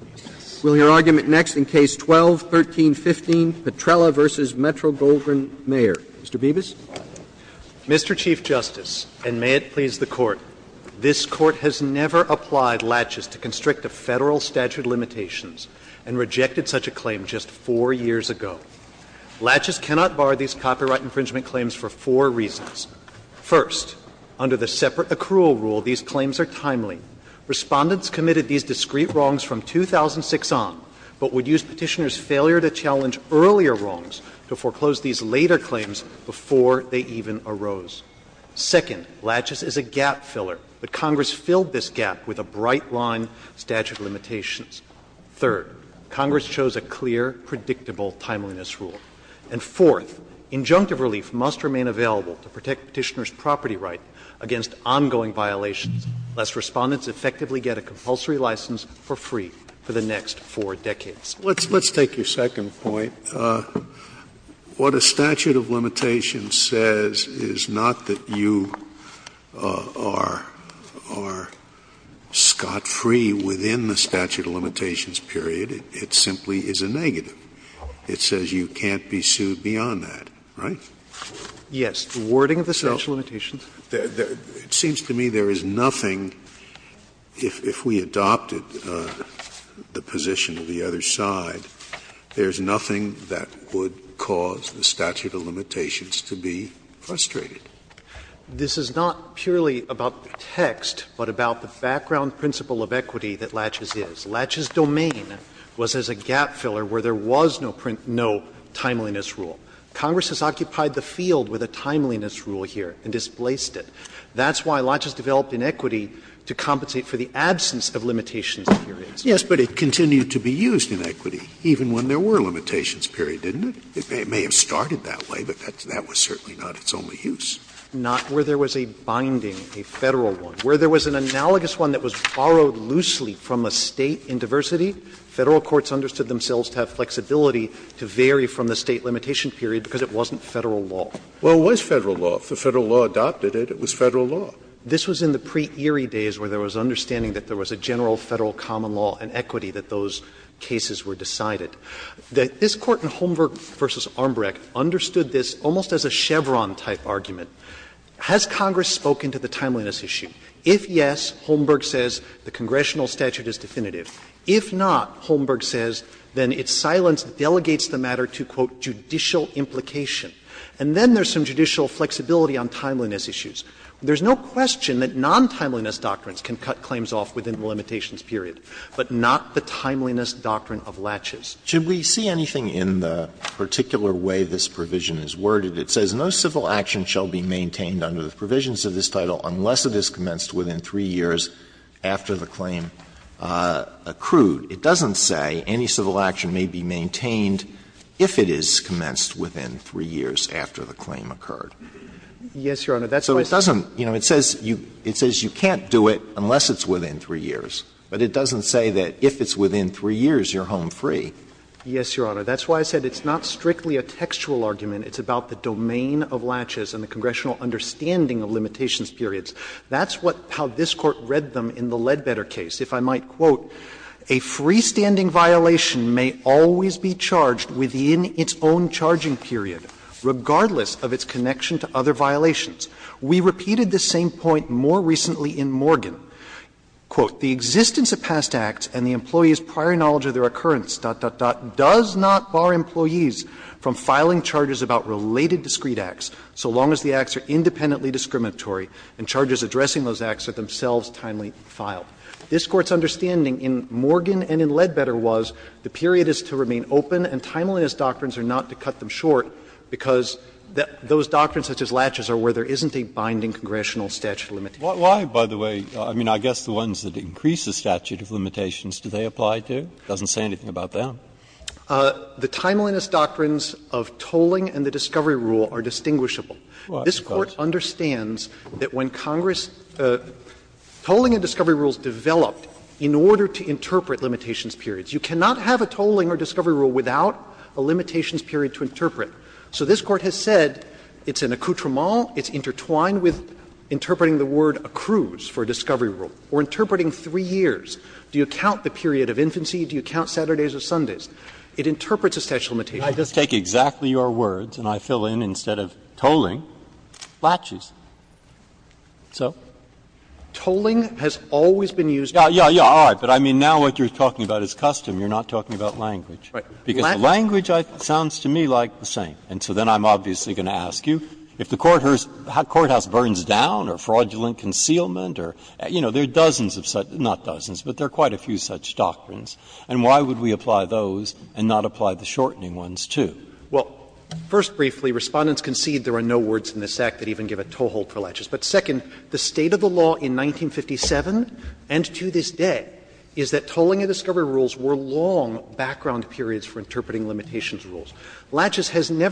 Roberts. Roberts. Will your argument next in Case 12-1315, Petrella v. Metro-Goldwyn-Mayer. Mr. Bibas. Mr. Chief Justice, and may it please the Court, this Court has never applied laches to constrict a Federal statute of limitations and rejected such a claim just four years ago. Laches cannot bar these copyright infringement claims for four reasons. First, under the separate accrual rule, these claims are timely. Respondents committed these discrete wrongs from 2006 on, but would use Petitioner's failure to challenge earlier wrongs to foreclose these later claims before they even arose. Second, laches is a gap filler, but Congress filled this gap with a bright line statute of limitations. Third, Congress chose a clear, predictable timeliness rule. And fourth, injunctive relief must remain available to protect Petitioner's property right against ongoing violations. Lest Respondents effectively get a compulsory license for free for the next four decades. Scalia. Let's take your second point. What a statute of limitations says is not that you are scot-free within the statute of limitations period. It simply is a negative. It says you can't be sued beyond that, right? Yes. The wording of the statute of limitations. It seems to me there is nothing, if we adopted the position of the other side, there is nothing that would cause the statute of limitations to be frustrated. This is not purely about the text, but about the background principle of equity that laches is. Laches' domain was as a gap filler where there was no timeliness rule. Congress has occupied the field with a timeliness rule here and displaced it. That's why laches developed inequity to compensate for the absence of limitations periods. Scalia. Yes, but it continued to be used in equity even when there were limitations period, didn't it? It may have started that way, but that was certainly not its only use. Not where there was a binding, a Federal one. Where there was an analogous one that was borrowed loosely from a State in diversity, Federal courts understood themselves to have flexibility to vary from the State limitation period because it wasn't Federal law. Well, it was Federal law. If the Federal law adopted it, it was Federal law. This was in the pre-Erie days where there was understanding that there was a general Federal common law and equity that those cases were decided. This Court in Holmberg v. Armbrecht understood this almost as a Chevron-type argument. Has Congress spoken to the timeliness issue? If yes, Holmberg says the congressional statute is definitive. If not, Holmberg says, then its silence delegates the matter to, quote, judicial implication. And then there's some judicial flexibility on timeliness issues. There's no question that non-timeliness doctrines can cut claims off within the limitations period, but not the timeliness doctrine of latches. Alito, should we see anything in the particular way this provision is worded? It says, Yes, Your Honor, that's why I said it's not strictly a textual argument. It's about the domain of latches and the congressional understanding of limitations periods. That's what how this Court read them in the Ledbetter case. If I might quote, A freestanding violation may always be charged within its own charging period, regardless of its connection to other violations. We repeated this same point more recently in Morgan. Quote, The existence of past acts and the employee's prior knowledge of their occurrence does not bar employees from filing charges about related discrete acts, so long as the acts are independently discriminatory and charges addressing those acts are themselves timely filed. This Court's understanding in Morgan and in Ledbetter was the period is to remain open and timeliness doctrines are not to cut them short because those doctrines such as latches are where there isn't a binding congressional statute of limitations. Breyer, I mean, I guess the ones that increase the statute of limitations, do they apply to? It doesn't say anything about that. The timeliness doctrines of tolling and the discovery rule are distinguishable. This Court understands that when Congress tolling and discovery rules developed in order to interpret limitations periods. You cannot have a tolling or discovery rule without a limitations period to interpret. So this Court has said it's an accoutrement, it's intertwined with interpreting the word accrues for a discovery rule. We're interpreting 3 years. Do you count the period of infancy? Do you count Saturdays or Sundays? It interprets a statute of limitations. Breyer, I just take exactly your words and I fill in instead of tolling, latches. So? Tolling has always been used to interpret. Breyer, yeah, yeah, all right. But I mean, now what you're talking about is custom. You're not talking about language. Because language sounds to me like the same. And so then I'm obviously going to ask you, if the courthouse burns down or fraudulent concealment or, you know, there are dozens of such, not dozens, but there are quite a few such doctrines, and why would we apply those and not apply the shortening ones, too? Well, first, briefly, Respondents concede there are no words in this Act that even give a toehold for latches. But, second, the state of the law in 1957 and to this day is that tolling and discovery rules were long background periods for interpreting limitations rules. This Court interprets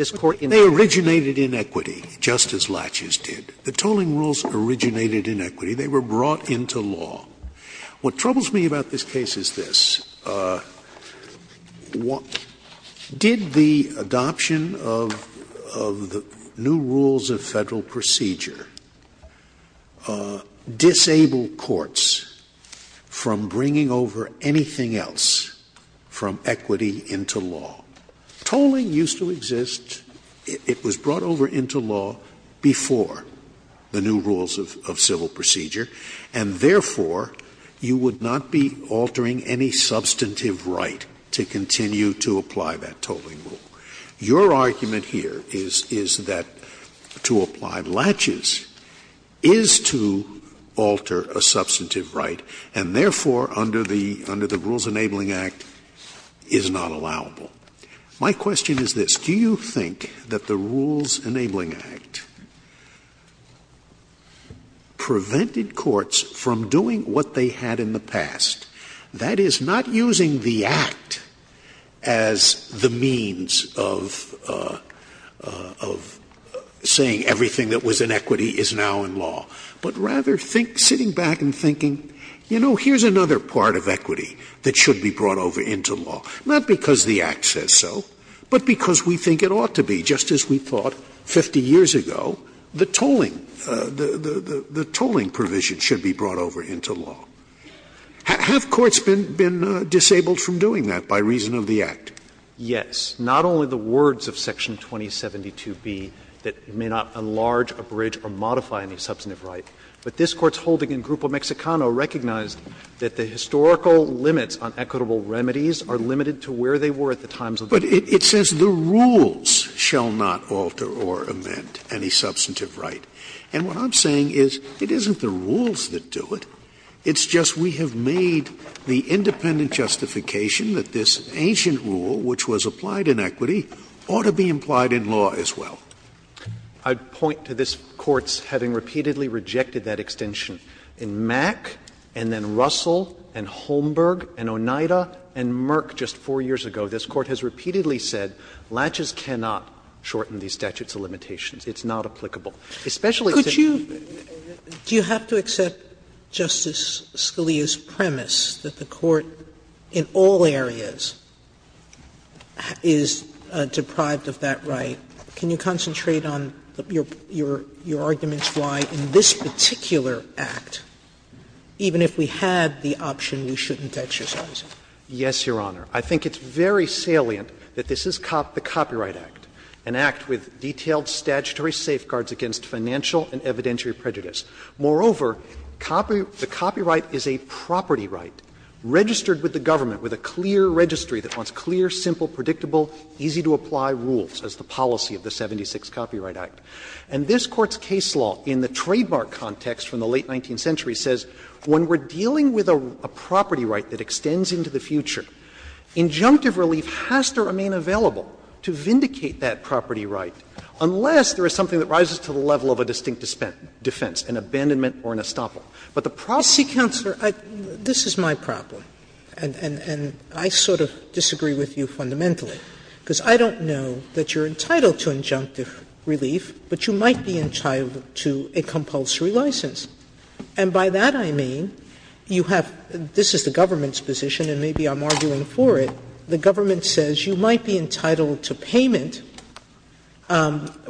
it as a long period of time. Scalia, they originated in equity, just as latches did. The tolling rules originated in equity. They were brought into law. What troubles me about this case is this. Did the adoption of the new rules of Federal procedure disable courts from bringing over anything else from equity into law? Tolling used to exist. It was brought over into law before the new rules of civil procedure. And, therefore, you would not be altering any substantive right to continue to apply that tolling rule. Your argument here is that to apply latches is to alter a substantive right and, therefore, under the Rules Enabling Act, is not allowable. My question is this. Do you think that the Rules Enabling Act prevented courts from doing what they had in the past, that is, not using the Act as the means of saying everything that was in equity is now in law, but rather think, sitting back and thinking, you know, here's another part of equity that should be brought over into law, not because the Act says so, but because we think it ought to be, just as we thought 50 years ago, the tolling, the tolling provision should be brought over into law. Have courts been disabled from doing that by reason of the Act? Yes. Not only the words of Section 2072b that may not enlarge, abridge, or modify any substantive right, but this Court's holding in Grupo Mexicano recognized that the historical limits on equitable remedies are limited to where they were at the times of the Act. Scalia. But it says the rules shall not alter or amend any substantive right, and what I'm saying is it isn't the rules that do it, it's just we have made the independent justification that this ancient rule, which was applied in equity, ought to be implied in law as well. I'd point to this Court's having repeatedly rejected that extension. In Mack, and then Russell, and Holmberg, and Oneida, and Merck just 4 years ago, this Court has repeatedly said latches cannot shorten these statutes of limitations. It's not applicable. Especially if it's in the statute of limitations. Sotomayor, do you have to accept Justice Scalia's premise that the Court in all areas is deprived of that right? Can you concentrate on your arguments why in this particular Act, even if we had the option, we shouldn't exercise it? Yes, Your Honor. I think it's very salient that this is the Copyright Act, an act with detailed statutory safeguards against financial and evidentiary prejudice. Moreover, the copyright is a property right registered with the government with a clear registry that wants clear, simple, predictable, easy-to-apply rules as the policy of the 76th Copyright Act. And this Court's case law in the trademark context from the late 19th century says when we're dealing with a property right that extends into the future, injunctive relief has to remain available to vindicate that property right, unless there is something that rises to the level of a distinct defense, an abandonment or an estoppel. But the problem is that this is a property right that has to be vindicated. Sotomayor, this is my problem, and I sort of disagree with you fundamentally. Because I don't know that you're entitled to injunctive relief, but you might be entitled to a compulsory license. And by that I mean you have – this is the government's position, and maybe I'm arguing for it. The government says you might be entitled to payment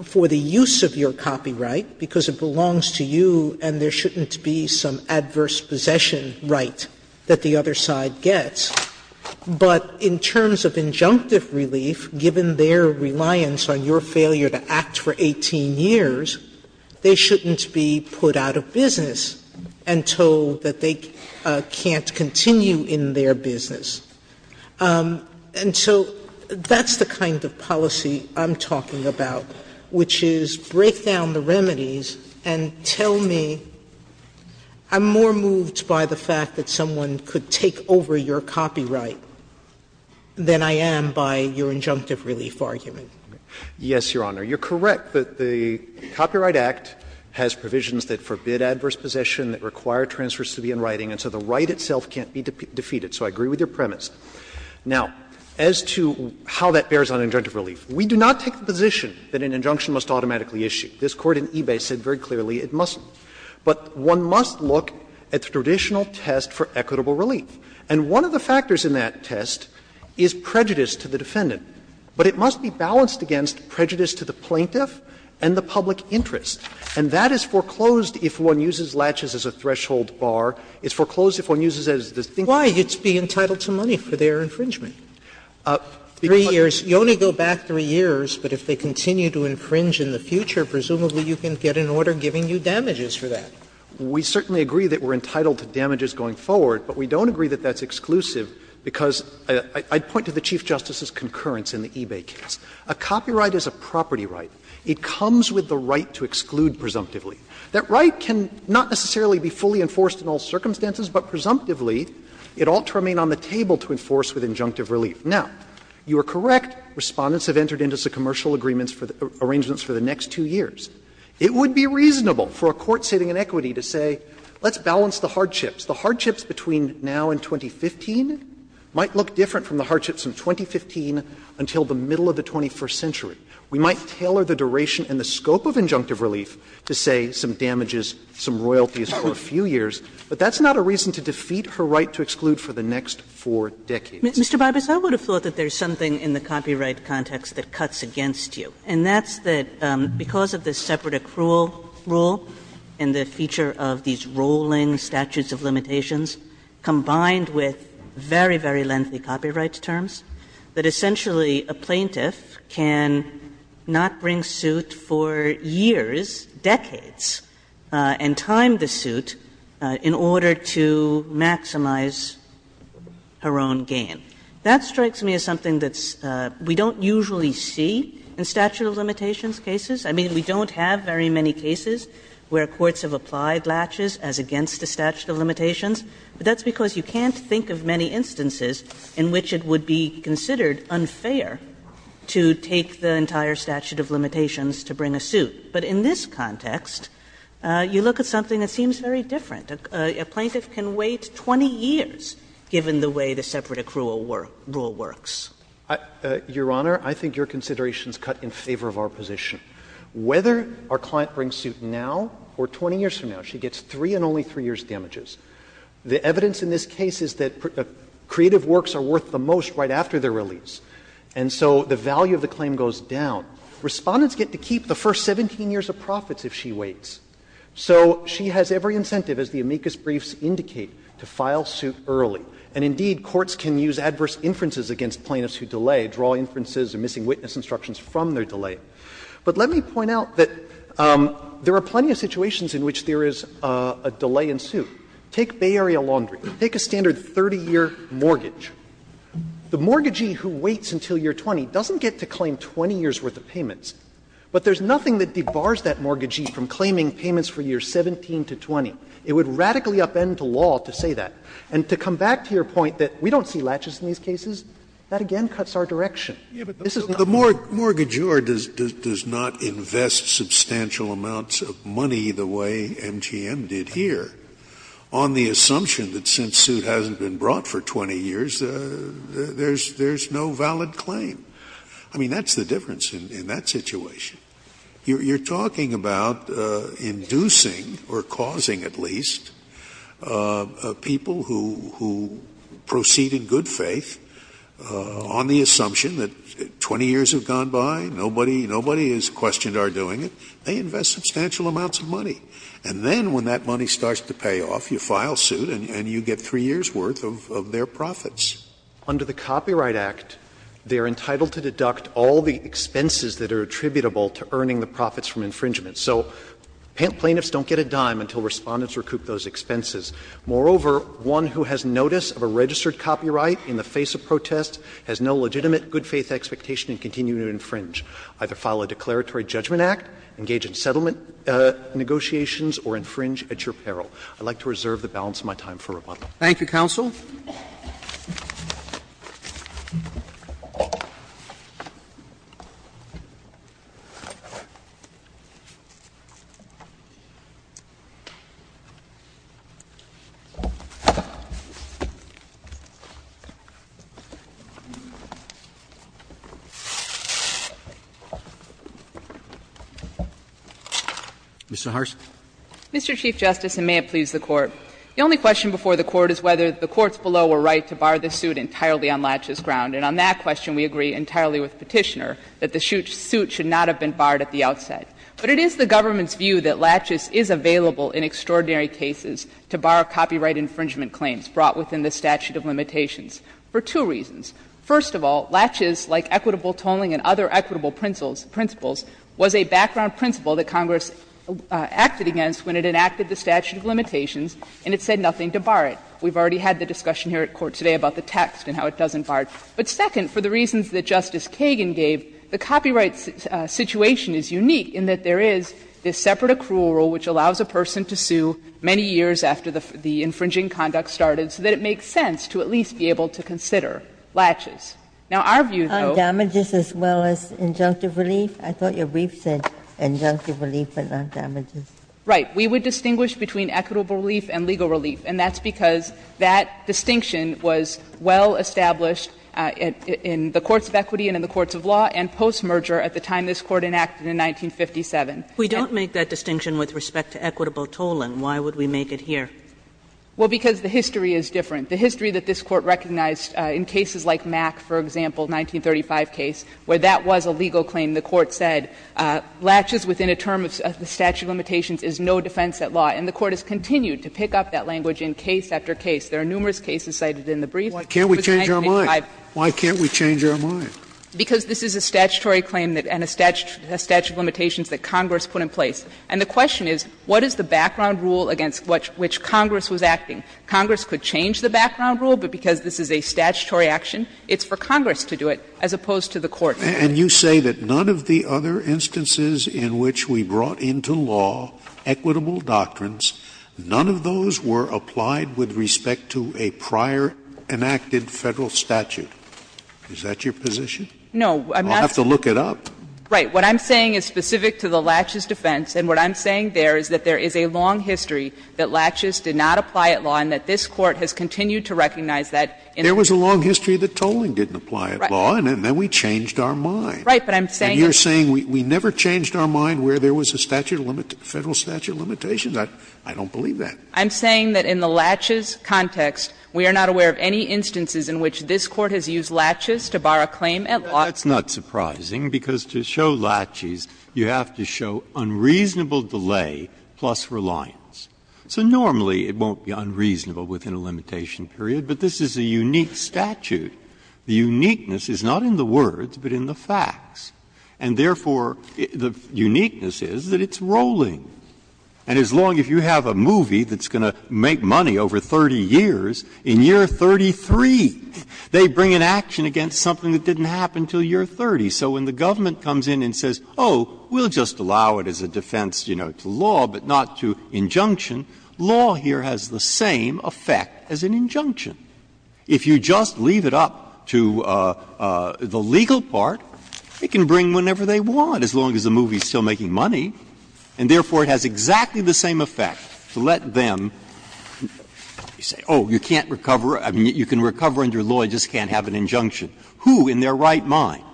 for the use of your copyright because it belongs to you and there shouldn't be some adverse possession right that the other side gets. But in terms of injunctive relief, given their reliance on your failure to act for 18 years, they shouldn't be put out of business and told that they can't continue in their business. And so that's the kind of policy I'm talking about, which is break down the remedies and tell me I'm more moved by the fact that someone could take over your copyright than I am by your injunctive relief argument. Yes, Your Honor. You're correct that the Copyright Act has provisions that forbid adverse possession, that require transfers to be in writing, and so the right itself can't be defeated. So I agree with your premise. Now, as to how that bears on injunctive relief, we do not take the position that an injunction must automatically issue. This Court in eBay said very clearly it mustn't. But one must look at the traditional test for equitable relief. And one of the factors in that test is prejudice to the defendant. But it must be balanced against prejudice to the plaintiff and the public interest. And that is foreclosed if one uses latches as a threshold bar. It's foreclosed if one uses it as a distinction. Sotomayor Why? It's being entitled to money for their infringement. Three years. You only go back three years, but if they continue to infringe in the future, presumably you can get an order giving you damages for that. We certainly agree that we're entitled to damages going forward, but we don't agree that that's exclusive because I'd point to the Chief Justice's concurrence in the eBay case. A copyright is a property right. It comes with the right to exclude presumptively. That right can not necessarily be fully enforced in all circumstances, but presumptively it ought to remain on the table to enforce with injunctive relief. Now, you are correct, Respondents have entered into the commercial agreements for the arrangements for the next two years. It would be reasonable for a court sitting in equity to say, let's balance the hardships. The hardships between now and 2015 might look different from the hardships in 2015 until the middle of the 21st century. We might tailor the duration and the scope of injunctive relief to, say, some damages, some royalties for a few years, but that's not a reason to defeat her right to exclude for the next four decades. Mr. Barbaros, I would have thought that there's something in the copyright context that cuts against you, and that's that because of the separate accrual rule and the feature of these rolling statutes of limitations combined with very, very lengthy copyright terms, that essentially a plaintiff can not bring suit for years, decades, and time the suit in order to maximize her own gain. That strikes me as something that we don't usually see in statute of limitations cases. I mean, we don't have very many cases where courts have applied latches as against the statute of limitations, but that's because you can't think of many instances in which it would be considered unfair to take the entire statute of limitations to bring a suit. But in this context, you look at something that seems very different. A plaintiff can wait 20 years given the way the separate accrual rule works. Barbaros, Your Honor, I think your consideration is cut in favor of our position. Whether our client brings suit now or 20 years from now, she gets 3 and only 3 years' damages. The evidence in this case is that creative works are worth the most right after their release, and so the value of the claim goes down. Respondents get to keep the first 17 years of profits if she waits. So she has every incentive, as the amicus briefs indicate, to file suit early. And indeed, courts can use adverse inferences against plaintiffs who delay, draw inferences or missing witness instructions from their delay. But let me point out that there are plenty of situations in which there is a delay in suit. Take Bay Area Laundry. Take a standard 30-year mortgage. The mortgagee who waits until year 20 doesn't get to claim 20 years' worth of payments, but there's nothing that debars that mortgagee from claiming payments for year 17 to 20. It would radically upend the law to say that. And to come back to your point that we don't see latches in these cases, that again cuts our direction. This is not the case. Scalia, The mortgagor does not invest substantial amounts of money the way MGM did here on the assumption that since suit hasn't been brought for 20 years, there is no valid claim. I mean, that's the difference in that situation. You're talking about inducing or causing at least people who proceed in good faith on the assumption that 20 years have gone by, nobody is questioned are doing it. They invest substantial amounts of money. And then when that money starts to pay off, you file suit and you get three years' worth of their profits. Under the Copyright Act, they are entitled to deduct all the expenses that are attributable to earning the profits from infringement. So plaintiffs don't get a dime until Respondents recoup those expenses. Moreover, one who has notice of a registered copyright in the face of protest has no legitimate good faith expectation in continuing to infringe. Either file a declaratory judgment act, engage in settlement negotiations, or infringe at your peril. Roberts. Thank you, counsel. Ms. Saharsky. Mr. Chief Justice, and may it please the Court. The only question before the Court is whether the courts below were right to bar the suit entirely on Latches' ground. And on that question, we agree entirely with Petitioner that the suit should not have been barred at the outset. But it is the government's view that Latches is available in extraordinary cases to bar copyright infringement claims brought within the statute of limitations for two reasons. First of all, Latches, like equitable tolling and other equitable principles, was a background principle that Congress acted against when it enacted the statute of limitations, and it said nothing to bar it. We've already had the discussion here at court today about the text and how it doesn't bar it. But second, for the reasons that Justice Kagan gave, the copyright situation is unique in that there is this separate accrual rule which allows a person to sue many years after the infringing conduct started, so that it makes sense to at least be able to consider Latches. Now, our view, though — On damages as well as injunctive relief? I thought your brief said injunctive relief but not damages. Right. We would distinguish between equitable relief and legal relief, and that's because that distinction was well established in the courts of equity and in the courts of law and postmerger at the time this Court enacted in 1957. We don't make that distinction with respect to equitable tolling. Why would we make it here? Well, because the history is different. The history that this Court recognized in cases like Mack, for example, 1935 case, where that was a legal claim, the Court said Latches within a term of the statute of limitations is no defense at law, and the Court has continued to pick up that language in case after case. There are numerous cases cited in the brief. Why can't we change our mind? Why can't we change our mind? Because this is a statutory claim and a statute of limitations that Congress put in place. And the question is, what is the background rule against which Congress was acting? Congress could change the background rule, but because this is a statutory action, it's for Congress to do it as opposed to the Court. Scalia, and you say that none of the other instances in which we brought into law equitable doctrines, none of those were applied with respect to a prior enacted Federal statute. Is that your position? No. I'm not saying to look it up. Right. What I'm saying is specific to the Latches defense, and what I'm saying there is that there is a long history that Latches did not apply at law and that this Court has continued to recognize that. There was a long history that tolling didn't apply at law, and then we changed our mind. Right, but I'm saying that And you're saying we never changed our mind where there was a statute of limitation to the Federal statute of limitations? I don't believe that. I'm saying that in the Latches context, we are not aware of any instances in which this Court has used Latches to bar a claim at law. That's not surprising, because to show Latches, you have to show unreasonable delay plus reliance. So normally, it won't be unreasonable within a limitation period, but this is a unique statute. The uniqueness is not in the words, but in the facts, and therefore, the uniqueness is that it's rolling. And as long as you have a movie that's going to make money over 30 years, in year 33, they bring an action against something that didn't happen until year 30. So when the government comes in and says, oh, we'll just allow it as a defense, you know, to law, but not to injunction, law here has the same effect as an injunction. If you just leave it up to the legal part, it can bring whenever they want, as long as the movie is still making money, and therefore, it has exactly the same effect to let them say, oh, you can't recover, I mean, you can recover under law, you just can't have an injunction. Who in their right mind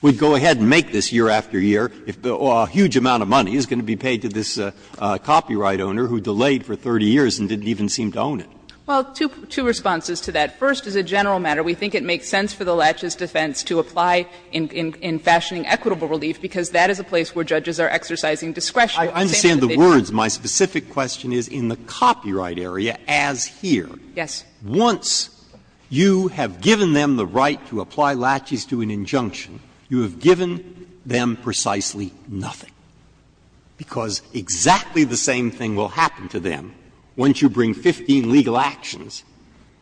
would go ahead and make this year after year if a huge amount of money is going to be paid to this copyright owner who delayed for 30 years and didn't even seem to own it? Well, two responses to that. First, as a general matter, we think it makes sense for the laches defense to apply in fashioning equitable relief, because that is a place where judges are exercising discretion. I understand the words. My specific question is in the copyright area as here. Yes. Once you have given them the right to apply laches to an injunction, you have given them precisely nothing, because exactly the same thing will happen to them once you bring 15 legal actions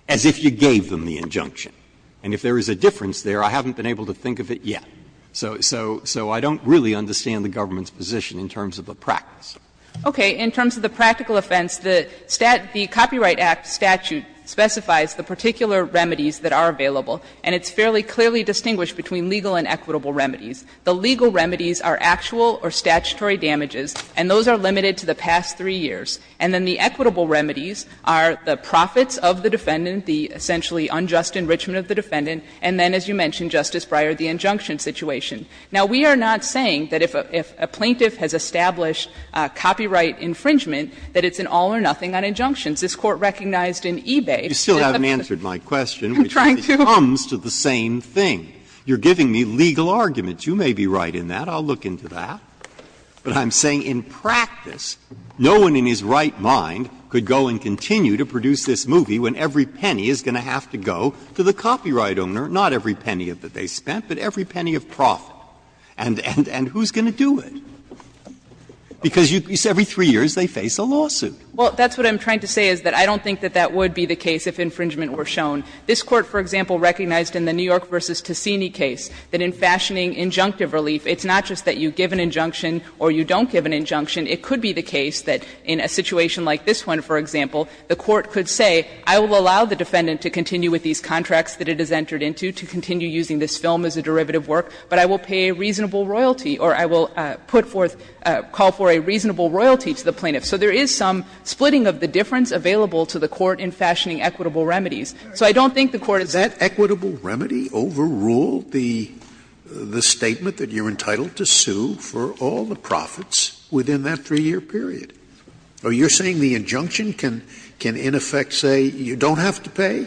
as if you gave them the injunction. And if there is a difference there, I haven't been able to think of it yet. So I don't really understand the government's position in terms of the practice. Okay. In terms of the practical offense, the Copyright Act statute specifies the particular remedies that are available, and it's fairly clearly distinguished between legal and equitable remedies. The legal remedies are actual or statutory damages, and those are limited to the past three years. And then the equitable remedies are the profits of the defendant, the essentially unjust enrichment of the defendant, and then, as you mentioned, Justice Breyer, the injunction situation. Now, we are not saying that if a plaintiff has established copyright infringement that it's an all or nothing on injunctions. This Court recognized in eBay that the plaintiff has established a copyright infringement. Breyer, you still haven't answered my question, which comes to the same thing. You're giving me legal arguments. You may be right in that. I'll look into that. But I'm saying in practice, no one in his right mind could go and continue to produce this movie when every penny is going to have to go to the copyright owner, not every penny that they spent, but every penny of profit. And who's going to do it? Because every three years they face a lawsuit. Well, that's what I'm trying to say, is that I don't think that that would be the case if infringement were shown. This Court, for example, recognized in the New York v. Tessini case that in fashioning injunctive relief, it's not just that you give an injunction or you don't give an injunction. It could be the case that in a situation like this one, for example, the Court could say, I will allow the defendant to continue with these contracts that it has entered into, to continue using this film as a derivative work, but I will pay a reasonable royalty or I will put forth, call for a reasonable royalty to the plaintiff. So there is some splitting of the difference available to the Court in fashioning So I don't think the Court is going to do that. equitable remedy overrule the statement that you're entitled to sue for all the profits within that 3-year period? Are you saying the injunction can in effect say you don't have to pay?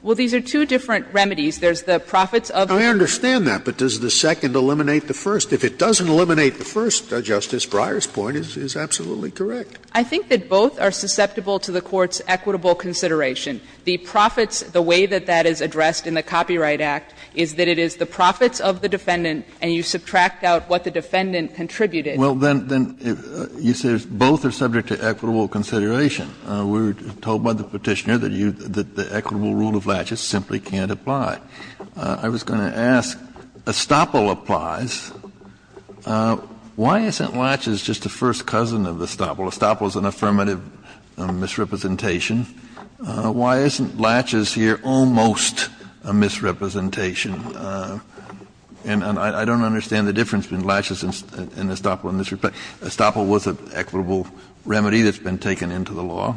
Well, these are two different remedies. There's the profits of the first. I understand that, but does the second eliminate the first? If it doesn't eliminate the first, Justice Breyer's point is absolutely correct. I think that both are susceptible to the Court's equitable consideration. The profits, the way that that is addressed in the Copyright Act is that it is the profits of the defendant and you subtract out what the defendant contributed. Well, then you say both are subject to equitable consideration. We were told by the Petitioner that the equitable rule of laches simply can't apply. I was going to ask, estoppel applies. Why isn't laches just the first cousin of estoppel? Estoppel is an affirmative misrepresentation. Why isn't laches here almost a misrepresentation? And I don't understand the difference between laches and estoppel in this respect. Estoppel was an equitable remedy that's been taken into the law.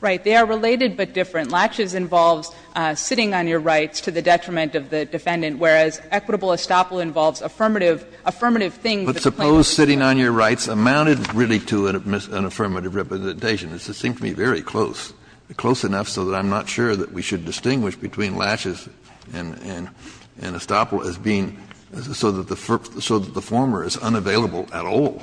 Right. They are related but different. Laches involves sitting on your rights to the detriment of the defendant, whereas equitable estoppel involves affirmative things that the plaintiff is doing. But suppose sitting on your rights amounted really to an affirmative representation. It seems to me very close, close enough so that I'm not sure that we should distinguish between laches and estoppel as being so that the former is unavailable at all.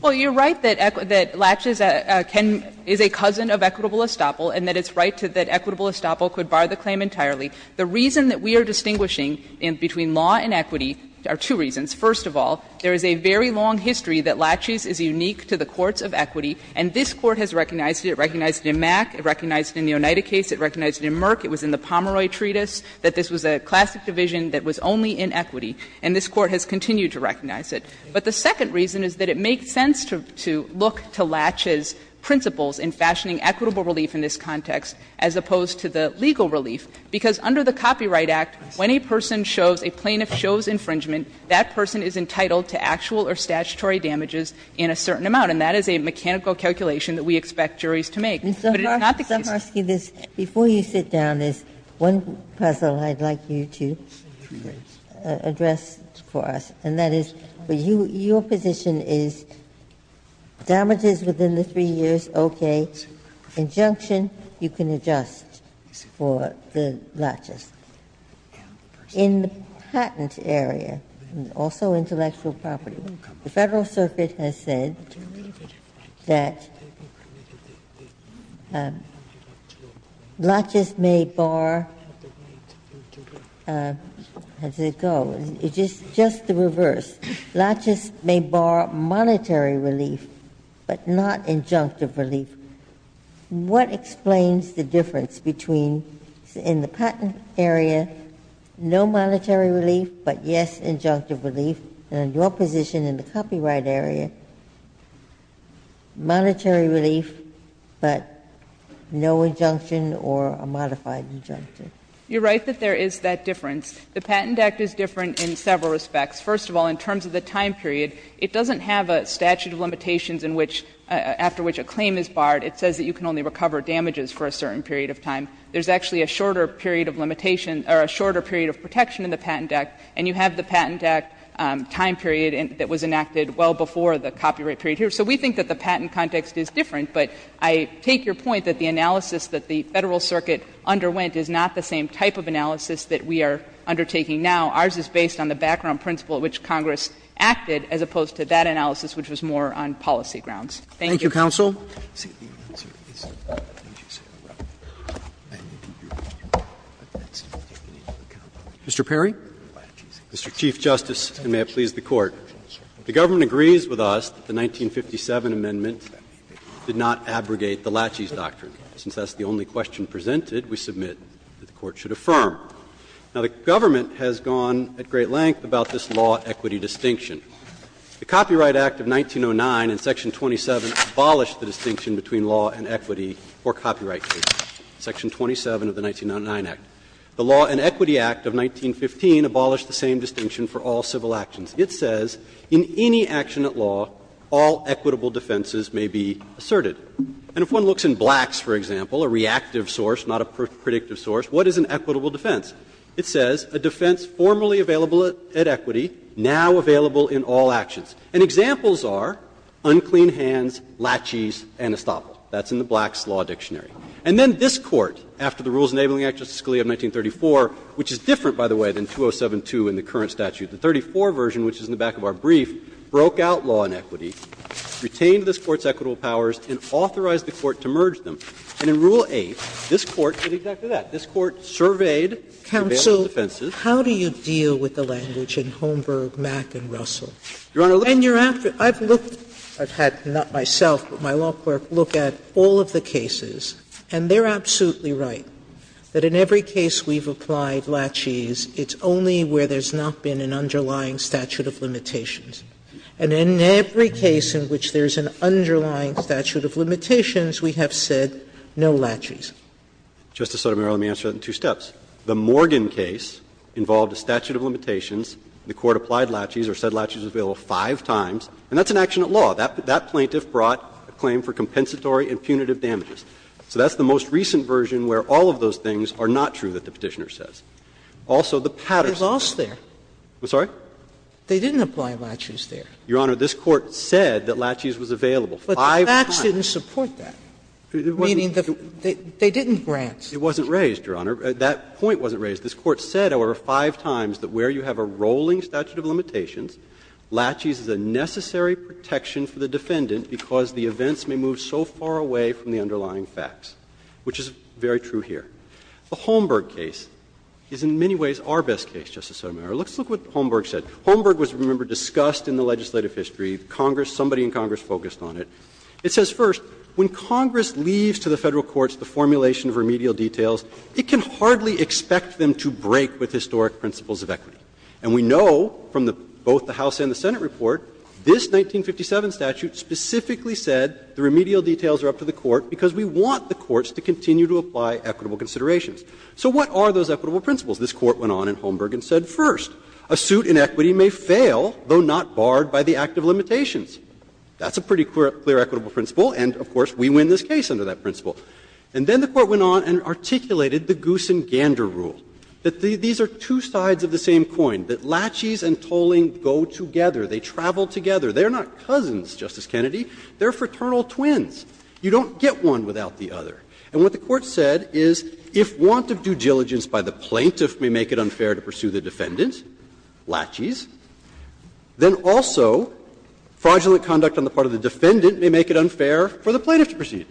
Well, you're right that laches is a cousin of equitable estoppel and that it's right that equitable estoppel could bar the claim entirely. The reason that we are distinguishing between law and equity are two reasons. First of all, there is a very long history that laches is unique to the courts of equity, and this Court has recognized it. It recognized it in Mack. It recognized it in the Oneida case. It recognized it in Merck. It was in the Pomeroy treatise, that this was a classic division that was only in equity. And this Court has continued to recognize it. But the second reason is that it makes sense to look to laches' principles in fashioning equitable relief in this context as opposed to the legal relief, because under the Copyright Act, when a person shows, a plaintiff shows infringement, that person is entitled to actual or statutory damages in a certain amount. And that is a mechanical calculation that we expect juries to make. But it's not the case that the plaintiff is entitled to actual damages in a certain amount. Ginsburg. Before you sit down, there's one puzzle I'd like you to address for us, and that is, your position is damages within the 3 years, okay. Injunction, you can adjust for the laches. In the patent area, also intellectual property, the Federal Circuit has said that laches may bar, how does it go, it's just the reverse, laches may bar monetary relief, but not injunctive relief. What explains the difference between, in the patent area, no monetary relief, but yes, injunctive relief, and your position in the copyright area, that the patent area has said, no monetary relief, but no injunction or a modified injunction? You're right that there is that difference. The Patent Act is different in several respects. First of all, in terms of the time period, it doesn't have a statute of limitations in which, after which a claim is barred. It says that you can only recover damages for a certain period of time. There's actually a shorter period of limitation, or a shorter period of protection in the Patent Act, and you have the Patent Act time period that was enacted well before the copyright period here. So we think that the patent context is different, but I take your point that the analysis that the Federal Circuit underwent is not the same type of analysis that we are undertaking now. Ours is based on the background principle at which Congress acted, as opposed to that analysis, which was more on policy grounds. Thank you. Roberts. Roberts. Mr. Perry. Mr. Chief Justice, and may it please the Court. The government agrees with us that the 1957 amendment did not abrogate the Lachey's doctrine. Since that's the only question presented, we submit that the Court should affirm. Now, the government has gone at great length about this law equity distinction. The Copyright Act of 1909 in section 27 abolished the distinction between law and equity for copyright cases, section 27 of the 1909 Act. The Law and Equity Act of 1915 abolished the same distinction for all civil actions. It says in any action at law, all equitable defenses may be asserted. And if one looks in Black's, for example, a reactive source, not a predictive source, what is an equitable defense? It says a defense formerly available at equity, now available in all actions. And examples are unclean hands, Lachey's, and Estoppel. That's in the Black's Law Dictionary. And then this Court, after the Rules Enabling Act of 1934, which is different, by the way, than 207.2 in the current statute, the 34 version, which is in the back of our brief, broke out law and equity, retained this Court's equitable powers, and authorized the Court to merge them. And in Rule 8, this Court did exactly that. This Court surveyed the available defenses. Sotomayor, how do you deal with the language in Holmberg, Mack, and Russell? And you're after – I've looked – I've had not myself, but my law clerk look at all of the cases, and they're absolutely right, that in every case we've applied Lachey's, it's only where there's not been an underlying statute of limitations. And in every case in which there's an underlying statute of limitations, we have said no Lachey's. Justice Sotomayor, let me answer that in two steps. The Morgan case involved a statute of limitations. The Court applied Lachey's or said Lachey's was available five times. And that's an action at law. That plaintiff brought a claim for compensatory and punitive damages. So that's the most recent version where all of those things are not true that the Petitioner says. Also, the patterns. Sotomayor, they didn't apply Lachey's there. Your Honor, this Court said that Lachey's was available five times. But the facts didn't support that, meaning that they didn't grant. It wasn't raised, Your Honor. That point wasn't raised. This Court said, however, five times that where you have a rolling statute of limitations, Lachey's is a necessary protection for the defendant because the events may move so far away from the underlying facts, which is very true here. The Holmberg case is in many ways our best case, Justice Sotomayor. Let's look at what Holmberg said. Holmberg was, remember, discussed in the legislative history. Congress, somebody in Congress focused on it. It says, first, when Congress leaves to the Federal courts the formulation of remedial details, it can hardly expect them to break with historic principles of equity. And we know from both the House and the Senate report, this 1957 statute specifically said the remedial details are up to the Court because we want the courts to continue to apply equitable considerations. So what are those equitable principles? This Court went on in Holmberg and said, first, a suit in equity may fail, though not barred by the act of limitations. That's a pretty clear equitable principle, and of course we win this case under that principle. And then the Court went on and articulated the Goosen-Gander rule, that these are two sides of the same coin, that laches and tolling go together, they travel together. They are not cousins, Justice Kennedy, they are fraternal twins. You don't get one without the other. And what the Court said is if want of due diligence by the plaintiff may make it unfair to pursue the defendant, laches, then also fraudulent conduct on the part of the defendant may make it unfair for the plaintiff to pursue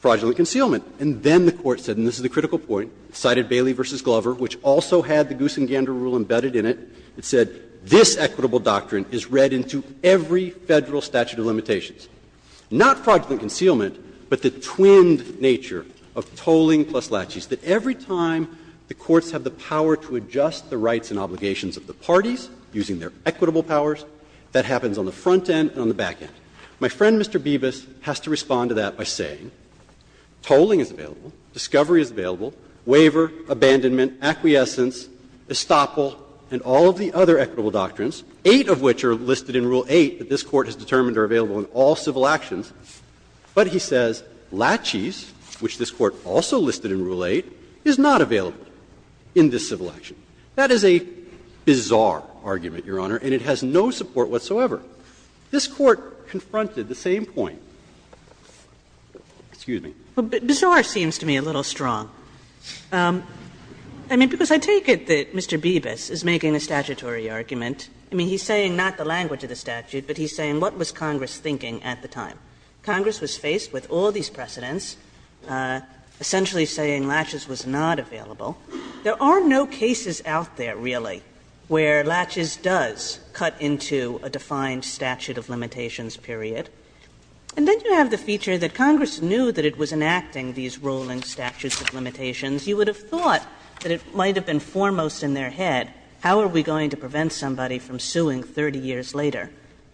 fraudulent concealment. And then the Court said, and this is the critical point, cited Bailey v. Glover, which also had the Goosen-Gander rule embedded in it, it said, this equitable doctrine is read into every Federal statute of limitations. Not fraudulent concealment, but the twinned nature of tolling plus laches, that every time the courts have the power to adjust the rights and obligations of the parties using their equitable powers, that happens on the front end and on the back end. My friend, Mr. Bevis, has to respond to that by saying tolling is available, discovery is available, waiver, abandonment, acquiescence, estoppel, and all of the other equitable doctrines, eight of which are listed in Rule 8 that this Court has determined are available in all civil actions, but he says laches, which this Court also listed in Rule 8, is not available in this civil action. That is a bizarre argument, Your Honor, and it has no support whatsoever. This Court confronted the same point. Excuse me. Kagan. Kagan. But bizarre seems to me a little strong. I mean, because I take it that Mr. Bevis is making a statutory argument. I mean, he's saying not the language of the statute, but he's saying what was Congress thinking at the time. Congress was faced with all these precedents, essentially saying laches was not available. There are no cases out there, really, where laches does cut into a defined statute of limitations period. And then you have the feature that Congress knew that it was enacting these ruling statutes of limitations. You would have thought that it might have been foremost in their head, how are we going to prevent somebody from suing 30 years later?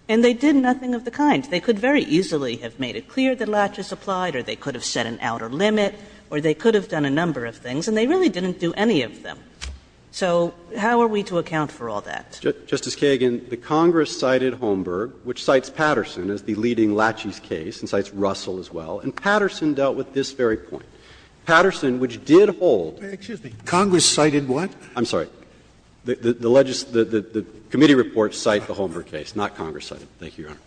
And they did nothing of the kind. They could very easily have made it clear that laches applied, or they could have set an outer limit, or they could have done a number of things, and they really didn't do any of them. So how are we to account for all that? Justice Kagan, the Congress cited Holmberg, which cites Patterson as the leading laches case, and cites Russell as well. And Patterson dealt with this very point. Patterson, which did hold. Scalia, Congress cited what? I'm sorry. The committee report cited the Holmberg case, not Congress cited. Thank you, Your Honor.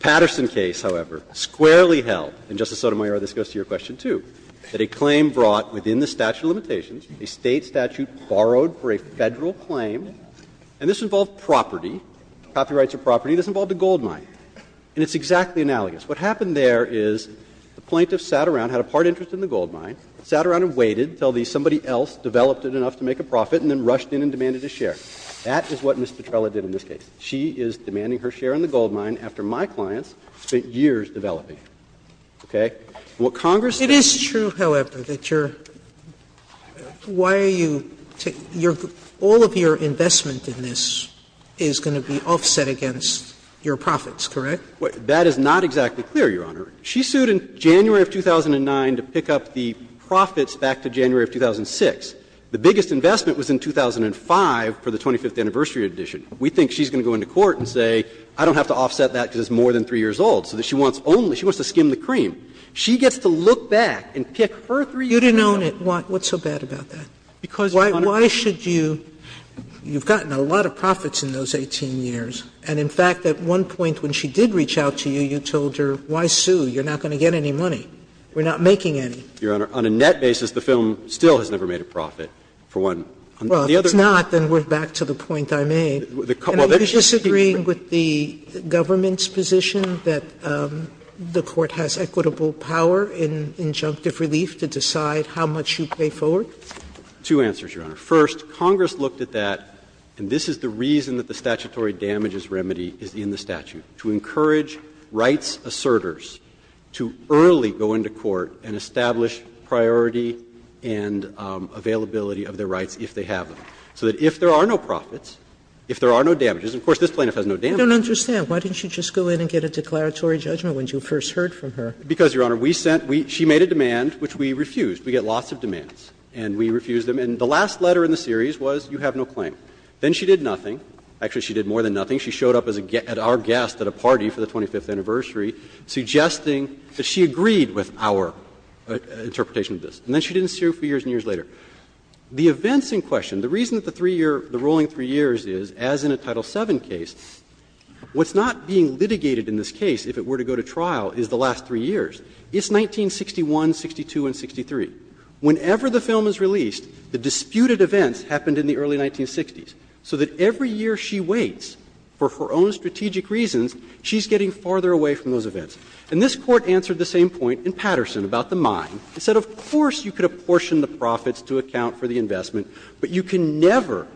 Patterson case, however, squarely held, and, Justice Sotomayor, this goes to your question, too, that a claim brought within the statute of limitations, a State statute borrowed for a Federal claim, and this involved property, copyrights of property. This involved a gold mine. And it's exactly analogous. What happened there is the plaintiff sat around, had a part interest in the gold mine, sat around and waited until somebody else developed it enough to make a profit and then rushed in and demanded a share. That is what Ms. Petrella did in this case. She is demanding her share in the gold mine after my clients spent years developing All of your investment in this is going to be offset against your profits, correct? That is not exactly clear, Your Honor. She sued in January of 2009 to pick up the profits back to January of 2006. The biggest investment was in 2005 for the 25th anniversary edition. We think she's going to go into court and say, I don't have to offset that because it's more than 3 years old. So that she wants only, she wants to skim the cream. She gets to look back and pick her 3 years old. You didn't own it. What's so bad about that? Why should you, you've gotten a lot of profits in those 18 years, and in fact at one point when she did reach out to you, you told her, why sue, you're not going to get any money. We're not making any. Your Honor, on a net basis, the film still has never made a profit for one. Well, if it's not, then we're back to the point I made. Are you disagreeing with the government's position that the court has equitable power in injunctive relief to decide how much you pay forward? Two answers, Your Honor. First, Congress looked at that, and this is the reason that the statutory damages remedy is in the statute, to encourage rights assertors to early go into court and establish priority and availability of their rights if they have them, so that if there are no profits, if there are no damages, and of course this plaintiff has no damages. Sotomayor, I don't understand. Why didn't she just go in and get a declaratory judgment when you first heard from her? Because, Your Honor, we sent, she made a demand which we refused. We get lots of demands, and we refused them. And the last letter in the series was, you have no claim. Then she did nothing. Actually, she did more than nothing. She showed up as a guest, at our guest at a party for the 25th anniversary, suggesting that she agreed with our interpretation of this. And then she didn't see her for years and years later. The events in question, the reason that the three-year, the ruling three years is, as in a Title VII case, what's not being litigated in this case, if it were to go to trial, is the last three years. It's 1961, 62, and 63. Whenever the film is released, the disputed events happened in the early 1960s. So that every year she waits for her own strategic reasons, she's getting farther away from those events. And this Court answered the same point in Patterson about the mine. It said, of course, you could apportion the profits to account for the investment, but you can never,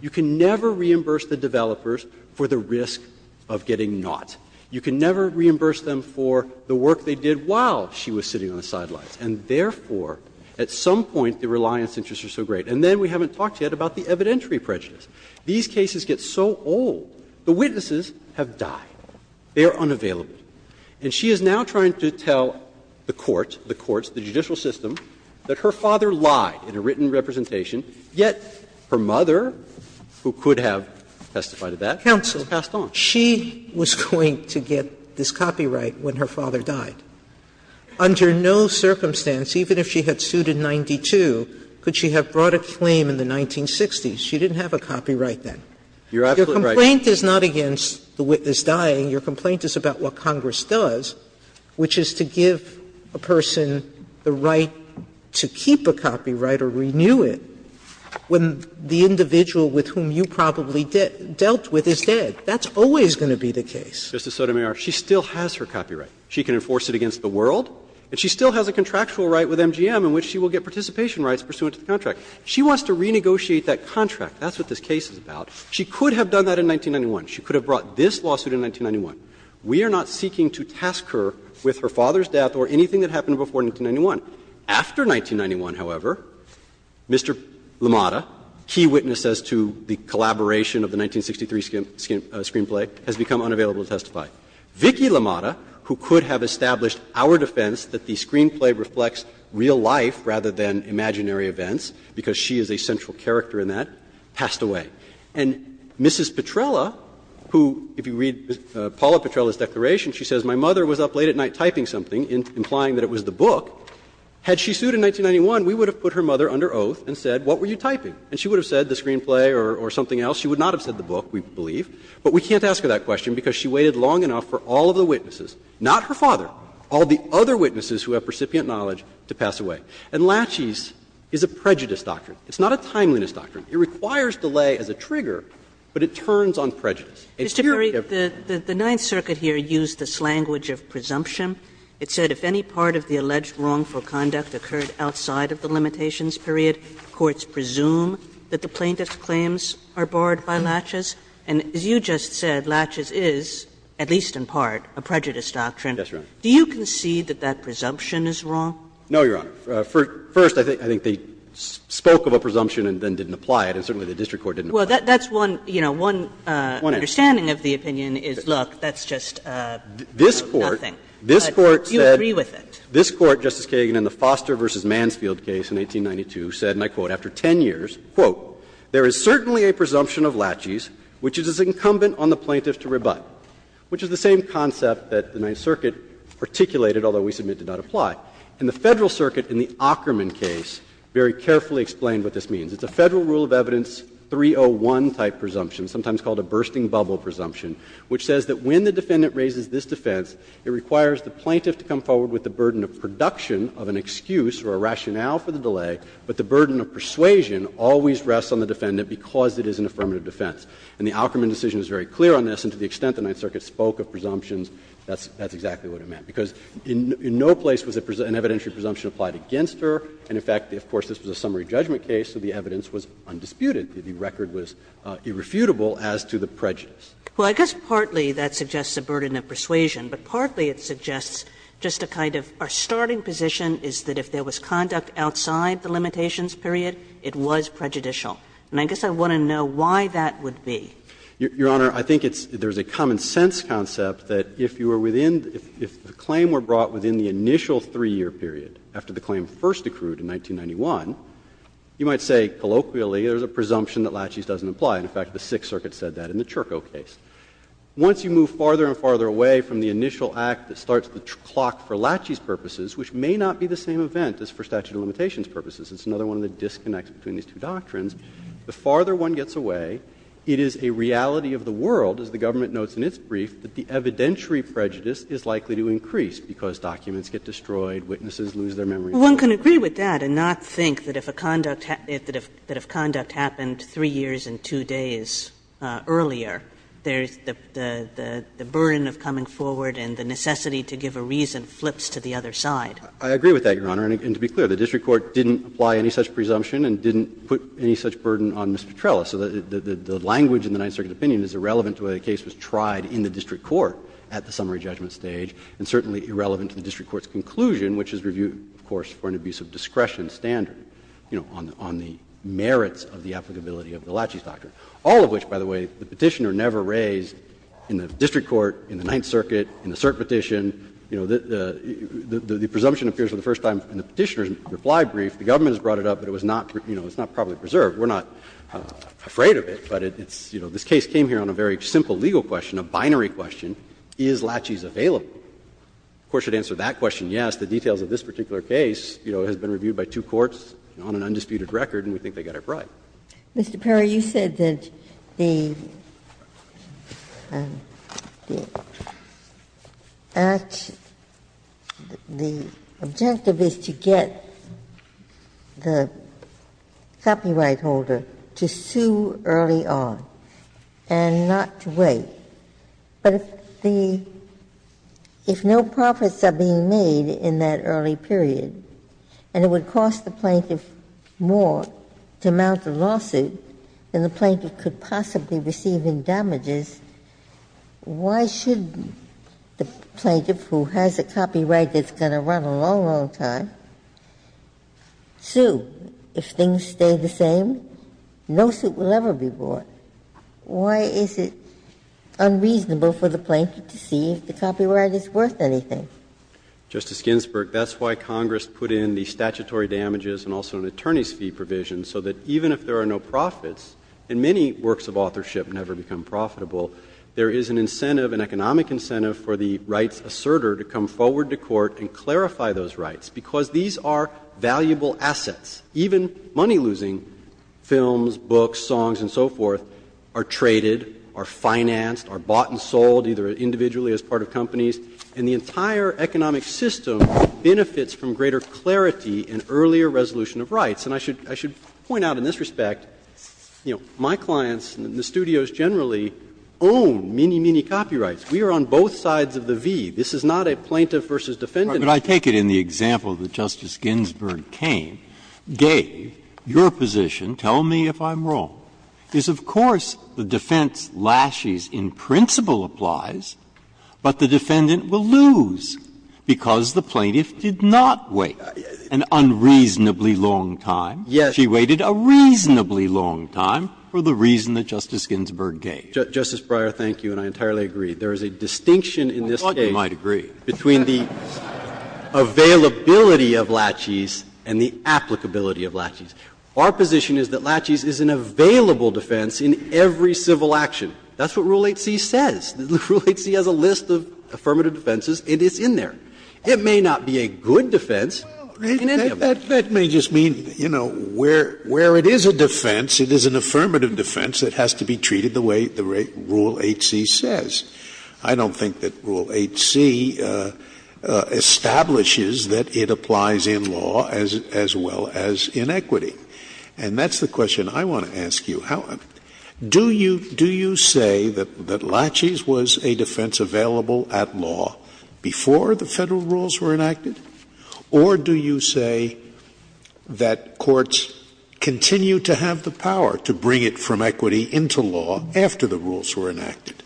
you can never reimburse the developers for the risk of getting not. You can never reimburse them for the work they did. And so this Court said, wow, she was sitting on the sidelines, and therefore at some point the reliance interests are so great, and then we haven't talked yet about the evidentiary prejudice. These cases get so old, the witnesses have died, they are unavailable, and she is now trying to tell the court, the courts, the judicial system, that her father lied in a written representation, yet her mother, who could have testified to that, has passed on. She was going to get this copyright when her father died. Under no circumstance, even if she had sued in 92, could she have brought a claim in the 1960s. She didn't have a copyright then. Your complaint is not against the witness dying. Your complaint is about what Congress does, which is to give a person the right to keep a copyright or renew it when the individual with whom you probably dealt with is dead. That's always going to be the case. Mr. Sotomayor, she still has her copyright. She can enforce it against the world, and she still has a contractual right with MGM in which she will get participation rights pursuant to the contract. She wants to renegotiate that contract. That's what this case is about. She could have done that in 1991. She could have brought this lawsuit in 1991. We are not seeking to task her with her father's death or anything that happened before 1991. After 1991, however, Mr. Lamada, key witness as to the collaboration of the 1963 screenplay, has become unavailable to testify. Vicki Lamada, who could have established our defense that the screenplay reflects real life rather than imaginary events, because she is a central character in that, passed away. And Mrs. Petrella, who, if you read Paula Petrella's declaration, she says, My mother was up late at night typing something, implying that it was the book. Had she sued in 1991, we would have put her mother under oath and said, What were you typing? And she would have said the screenplay or something else. She would not have said the book. We believe. But we can't ask her that question because she waited long enough for all of the witnesses, not her father, all the other witnesses who have recipient knowledge to pass away. And Latches is a prejudice doctrine. It's not a timeliness doctrine. It requires delay as a trigger, but it turns on prejudice. And here we have Kagan. Kagan. Kagan. Kagan. Kagan. Kagan. Kagan. Kagan. Kagan. Kagan. Kagan. Kagan. Kagan. Kagan. Kagan. Kagan. And as you just said, Latches is, at least in part, a prejudice doctrine. Yes, Your Honor. Do you concede that that presumption is wrong? No, Your Honor. First, I think they spoke of a presumption and then didn't apply it, and certainly the district court didn't apply it. Well, that's one, you know, one understanding of the opinion is, look, that's just nothing. This Court, this Court said. But you agree with it. This Court, Justice Kagan, in the Foster v. Mansfield case in 1892, said, and I quote, after 10 years, quote, "...there is certainly a presumption of Latches which is as incumbent on the plaintiff to rebut." Which is the same concept that the Ninth Circuit articulated, although we submit it did not apply. And the Federal Circuit in the Ockerman case very carefully explained what this means. It's a Federal Rule of Evidence 301-type presumption, sometimes called a bursting bubble presumption, which says that when the defendant raises this defense, it requires the plaintiff to come forward with the burden of production of an excuse or a rationale for the delay, but the burden of persuasion always rests on the defendant because it is an affirmative defense. And the Ockerman decision is very clear on this, and to the extent the Ninth Circuit spoke of presumptions, that's exactly what it meant. Because in no place was an evidentiary presumption applied against her, and in fact, of course, this was a summary judgment case, so the evidence was undisputed. The record was irrefutable as to the prejudice. Kagan. Well, I guess partly that suggests a burden of persuasion, but partly it suggests just a kind of our starting position is that if there was conduct outside the limitations period, it was prejudicial. And I guess I want to know why that would be. Your Honor, I think it's there's a common-sense concept that if you were within the – if the claim were brought within the initial 3-year period, after the claim first accrued in 1991, you might say colloquially there's a presumption that Lachey's doesn't apply. In fact, the Sixth Circuit said that in the Churko case. Once you move farther and farther away from the initial act that starts the clock for Lachey's purposes, which may not be the same event as for statute of limitations purposes, it's another one of the disconnects between these two doctrines, the farther one gets away, it is a reality of the world, as the government notes in its brief, that the evidentiary prejudice is likely to increase because documents get destroyed, witnesses lose their memory. Kagan. Well, one can agree with that and not think that if a conduct – that if conduct happened 3 years and 2 days earlier, there's the burden of coming forward and the necessity to give a reason flips to the other side. I agree with that, Your Honor, and to be clear, the district court didn't apply any such presumption and didn't put any such burden on Ms. Petrella. So the language in the Ninth Circuit opinion is irrelevant to whether the case was tried in the district court at the summary judgment stage, and certainly irrelevant to the district court's conclusion, which is reviewed, of course, for an abuse of discretion and standard, you know, on the merits of the applicability of the Lachey's doctrine. All of which, by the way, the Petitioner never raised in the district court, in the Ninth Circuit, in the cert petition, you know, the presumption appears for the first time in the Petitioner's reply brief. The government has brought it up, but it was not, you know, it's not properly preserved. We're not afraid of it, but it's, you know, this case came here on a very simple legal question, a binary question, is Lachey's available? The Court should answer that question, yes. The details of this particular case, you know, has been reviewed by two courts on an undisputed record, and we think they got it right. Mr. Perry, you said that the act the objective is to get the copyright holder to sue early on and not to wait. But if the – if no profits are being made in that early period, and it would cost the plaintiff more to mount a lawsuit than the plaintiff could possibly receive in damages, why should the plaintiff, who has a copyright that's going to run a long, long time, sue? If things stay the same, no suit will ever be brought. Why is it unreasonable for the plaintiff to see if the copyright is worth anything? Perry, Justice Ginsburg, that's why Congress put in the statutory damages and also an attorney's fee provision, so that even if there are no profits, and many works of authorship never become profitable, there is an incentive, an economic incentive for the rights assertor to come forward to court and clarify those rights, because these are valuable assets. Even money-losing films, books, songs, and so forth are traded, are financed, are bought and sold, either individually as part of companies, and the entire economic system benefits from greater clarity and earlier resolution of rights. And I should point out in this respect, you know, my clients and the studios generally own many, many copyrights. We are on both sides of the V. This is not a plaintiff versus defendant. Breyer, but I take it in the example that Justice Ginsburg came, gave, your position, tell me if I'm wrong, is of course the defense lashes in principle applies, but the defendant will lose because the plaintiff did not wait an unreasonably long time. Perry, Justice Breyer, thank you, and I entirely agree. There is a distinction in this case between the reasons that Justice Ginsburg referred to, the availability of laches, and the applicability of laches. Our position is that laches is an available defense in every civil action. That's what Rule 8c says. Rule 8c has a list of affirmative defenses, and it's in there. It may not be a good defense in any of them. Scalia, that may just mean, you know, where it is a defense, it is an affirmative defense that has to be treated the way the Rule 8c says. I don't think that Rule 8c establishes that it applies in law as well as in equity. And that's the question I want to ask you. Do you say that laches was a defense available at law before the Federal rules were enacted, or do you say that courts continue to have the power to bring it from equity into law after the rules were enacted?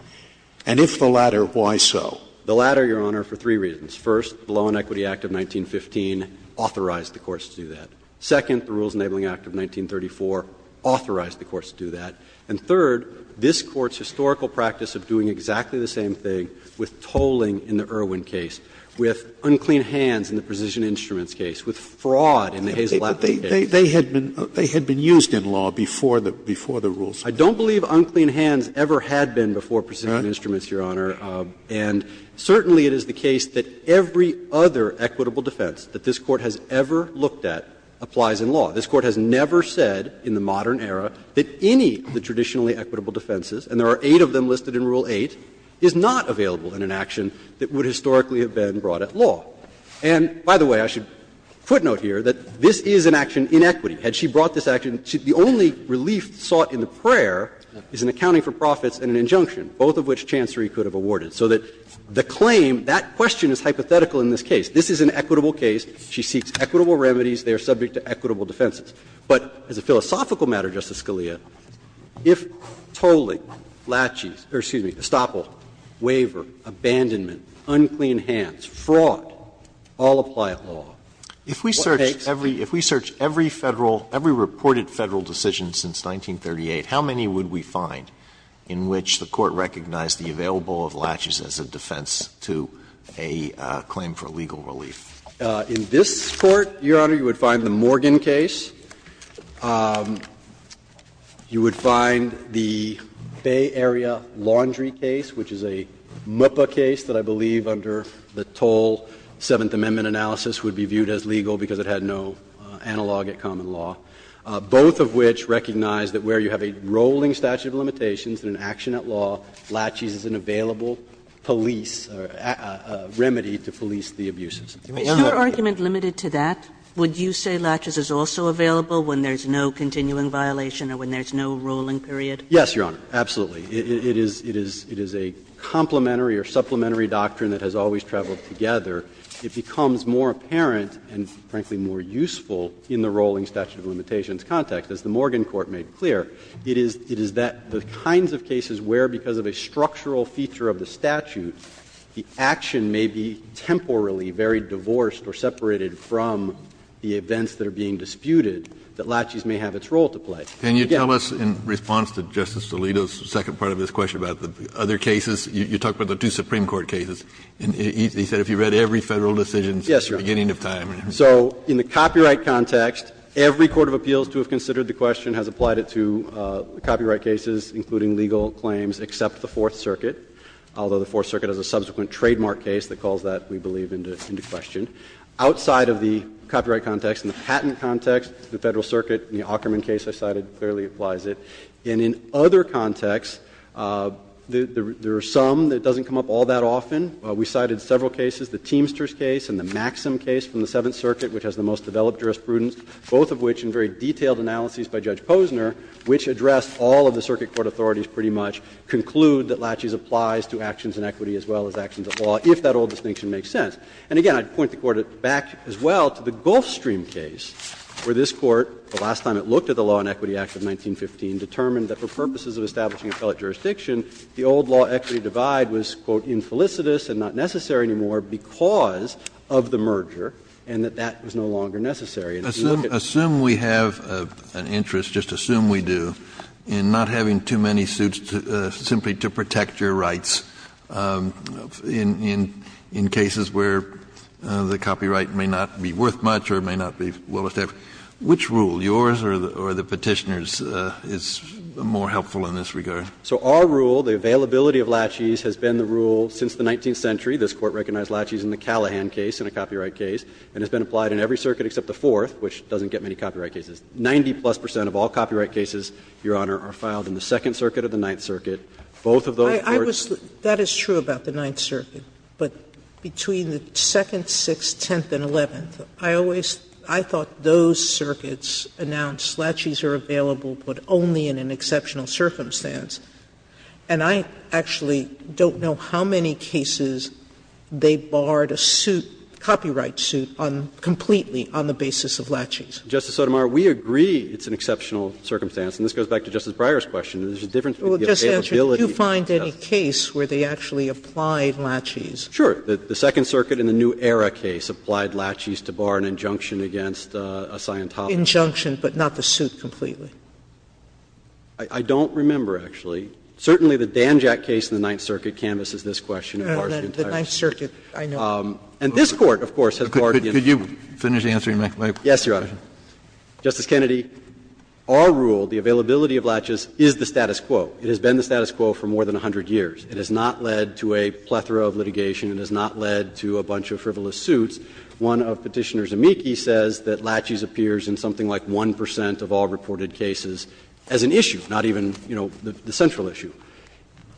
And if the latter, why so? The latter, Your Honor, for three reasons. First, the Law and Equity Act of 1915 authorized the courts to do that. Second, the Rules Enabling Act of 1934 authorized the courts to do that. And third, this Court's historical practice of doing exactly the same thing with tolling in the Irwin case, with unclean hands in the Precision Instruments case, with fraud in the Hazel Adams case. But they had been used in law before the rules were enacted. I don't believe unclean hands ever had been before Precision Instruments, Your Honor. And certainly it is the case that every other equitable defense that this Court has ever looked at applies in law. This Court has never said in the modern era that any of the traditionally equitable defenses, and there are eight of them listed in Rule 8, is not available in an action that would historically have been brought at law. And by the way, I should footnote here that this is an action in equity. Had she brought this action, the only relief sought in the prayer is an accounting for profits and an injunction, both of which Chancery could have awarded, so that the claim, that question is hypothetical in this case. This is an equitable case. She seeks equitable remedies. They are subject to equitable defenses. But as a philosophical matter, Justice Scalia, if tolling, laches, or excuse me, estoppel, waiver, abandonment, unclean hands, fraud, all apply at law, what takes? If we search every Federal, every reported Federal decision since 1938, how many would we find in which the Court recognized the available of laches as a defense to a claim for legal relief? In this Court, Your Honor, you would find the Morgan case. You would find the Bay Area Laundry case, which is a MUPA case that I believe the toll Seventh Amendment analysis would be viewed as legal because it had no analogue at common law. Both of which recognize that where you have a rolling statute of limitations and an action at law, laches is an available police remedy to police the abuses. Are we on to that? Kagan's argument limited to that? Would you say laches is also available when there's no continuing violation or when there's no rolling period? Yes, Your Honor, absolutely. It is a complementary or supplementary doctrine that has always traveled together. It becomes more apparent and, frankly, more useful in the rolling statute of limitations context, as the Morgan Court made clear. It is that the kinds of cases where, because of a structural feature of the statute, the action may be temporarily very divorced or separated from the events that are being disputed, that laches may have its role to play. Can you tell us, in response to Justice Alito's second part of his question about the other cases, you talked about the two Supreme Court cases, and he said if you read every Federal decision, it's the beginning of time. So in the copyright context, every court of appeals to have considered the question has applied it to copyright cases, including legal claims, except the Fourth Circuit, although the Fourth Circuit has a subsequent trademark case that calls that, we believe, into question. It clearly applies it. And in other contexts, there are some that it doesn't come up all that often. We cited several cases, the Teamsters case and the Maxim case from the Seventh Circuit, which has the most developed jurisprudence, both of which, in very detailed analyses by Judge Posner, which addressed all of the circuit court authorities pretty much, conclude that laches applies to actions in equity as well as actions of law, if that old distinction makes sense. And again, I'd point the Court back as well to the Gulfstream case, where this Court, the last time it looked at the Law and Equity Act of 1915, determined that for purposes of establishing appellate jurisdiction, the old law equity divide was, quote, infelicitous and not necessary anymore because of the merger, and that that was no longer necessary. And if you look at the other cases, it's the same thing. Kennedy, just assume we do, in not having too many suits simply to protect your rights in cases where the copyright may not be worth much or may not be well-established. Which rule, yours or the Petitioner's, is more helpful in this regard? So our rule, the availability of laches, has been the rule since the 19th century. This Court recognized laches in the Callahan case, in a copyright case, and has been applied in every circuit except the Fourth, which doesn't get many copyright cases. Ninety-plus percent of all copyright cases, Your Honor, are filed in the Second Both of those courts do not get many copyright cases. That is true about the Ninth Circuit, but between the Second, Sixth, Tenth, and Eleventh, I always, I thought those circuits announced laches are available, but only in an exceptional circumstance. And I actually don't know how many cases they barred a suit, copyright suit, on, completely, on the basis of laches. Justice Sotomayor, we agree it's an exceptional circumstance, and this goes back to Justice Breyer's question. There's a difference in the availability. Well, just to answer, did you find any case where they actually applied laches? Sure. The Second Circuit in the New Era case applied laches to bar an injunction against a Scientologist. Injunction, but not the suit completely. I don't remember, actually. Certainly the Danjack case in the Ninth Circuit canvasses this question. The Ninth Circuit, I know. And this Court, of course, has barred the injunction. Could you finish answering my question? Yes, Your Honor. Justice Kennedy, our rule, the availability of laches, is the status quo. It has been the status quo for more than 100 years. It has not led to a plethora of litigation. It has not led to a bunch of frivolous suits. One of Petitioner's amici says that laches appears in something like 1 percent of all reported cases as an issue, not even, you know, the central issue.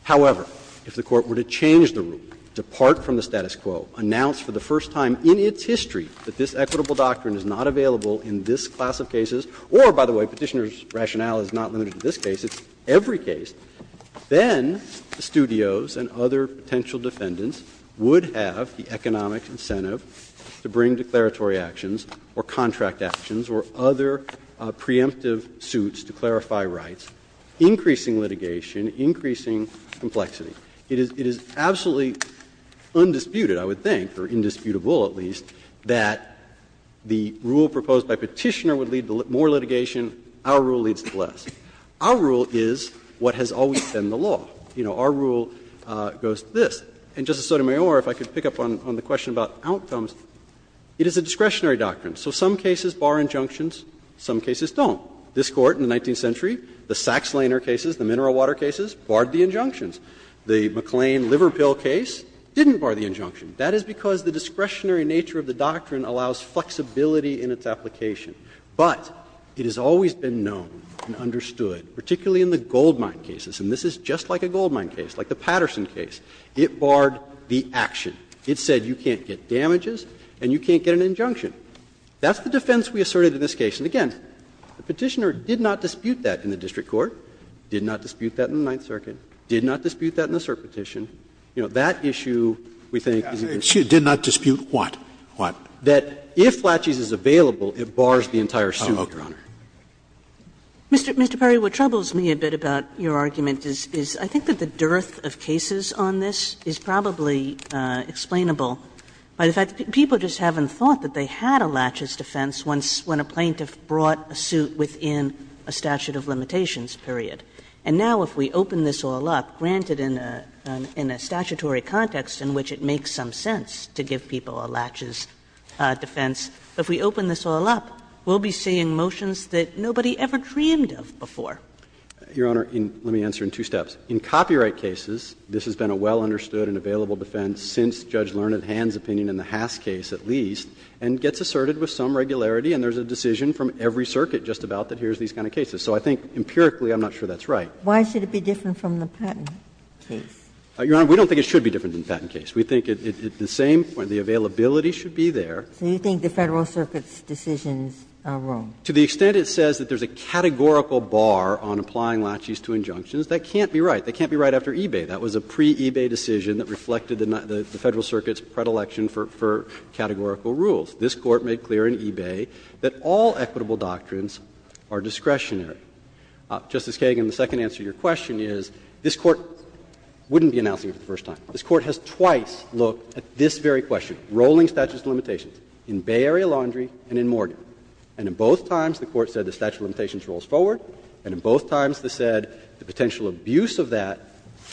However, if the Court were to change the rule, depart from the status quo, announce for the first time in its history that this equitable doctrine is not available in this class of cases, or, by the way, Petitioner's rationale is not limited to this case, it's every case, then the studios and other potential defendants would have the economic incentive to bring declaratory actions or contract actions or other preemptive suits to clarify rights, increasing litigation, increasing complexity. It is absolutely undisputed, I would think, or indisputable at least, that the rule proposed by Petitioner would lead to more litigation, our rule leads to less. Our rule is what has always been the law. You know, our rule goes to this. And, Justice Sotomayor, if I could pick up on the question about outcomes, it is a discretionary doctrine. So some cases bar injunctions, some cases don't. This Court in the 19th century, the Sax-Lehner cases, the mineral water cases, barred the injunctions. The McLean liver pill case didn't bar the injunction. That is because the discretionary nature of the doctrine allows flexibility in its application. But it has always been known and understood, particularly in the goldmine cases, and this is just like a goldmine case, like the Patterson case, it barred the action. It said you can't get damages and you can't get an injunction. That's the defense we asserted in this case. And, again, the Petitioner did not dispute that in the district court, did not dispute that in the Ninth Circuit, did not dispute that in the cert petition. You know, that issue, we think, is a concern. Scalia, did not dispute what, what? That if laches is available, it bars the entire suit, Your Honor. Kagan, Mr. Perry, what troubles me a bit about your argument is I think that the dearth of cases on this is probably explainable by the fact that people just haven't thought that they had a laches defense when a plaintiff brought a suit within a statute of limitations period. And now if we open this all up, granted in a statutory context in which it makes some sense to give people a laches defense, if we open this all up, we'll be seeing motions that nobody ever dreamed of before. Perry, Your Honor, let me answer in two steps. In copyright cases, this has been a well understood and available defense since Judge Learned Hand's opinion in the Haas case, at least, and gets asserted with some regularity and there's a decision from every circuit just about that here's these kind of cases. So I think empirically I'm not sure that's right. Why should it be different from the Patten case? Your Honor, we don't think it should be different than the Patten case. We think at the same point the availability should be there. So you think the Federal Circuit's decisions are wrong? To the extent it says that there's a categorical bar on applying laches to injunctions, that can't be right. That can't be right after eBay. That was a pre-eBay decision that reflected the Federal Circuit's predilection for categorical rules. This Court made clear in eBay that all equitable doctrines are discretionary. Justice Kagan, the second answer to your question is this Court wouldn't be announcing it for the first time. This Court has twice looked at this very question, rolling statute of limitations, in Bay Area Laundry and in Morgan. And in both times the Court said the statute of limitations rolls forward, and in both times it said the potential abuse of that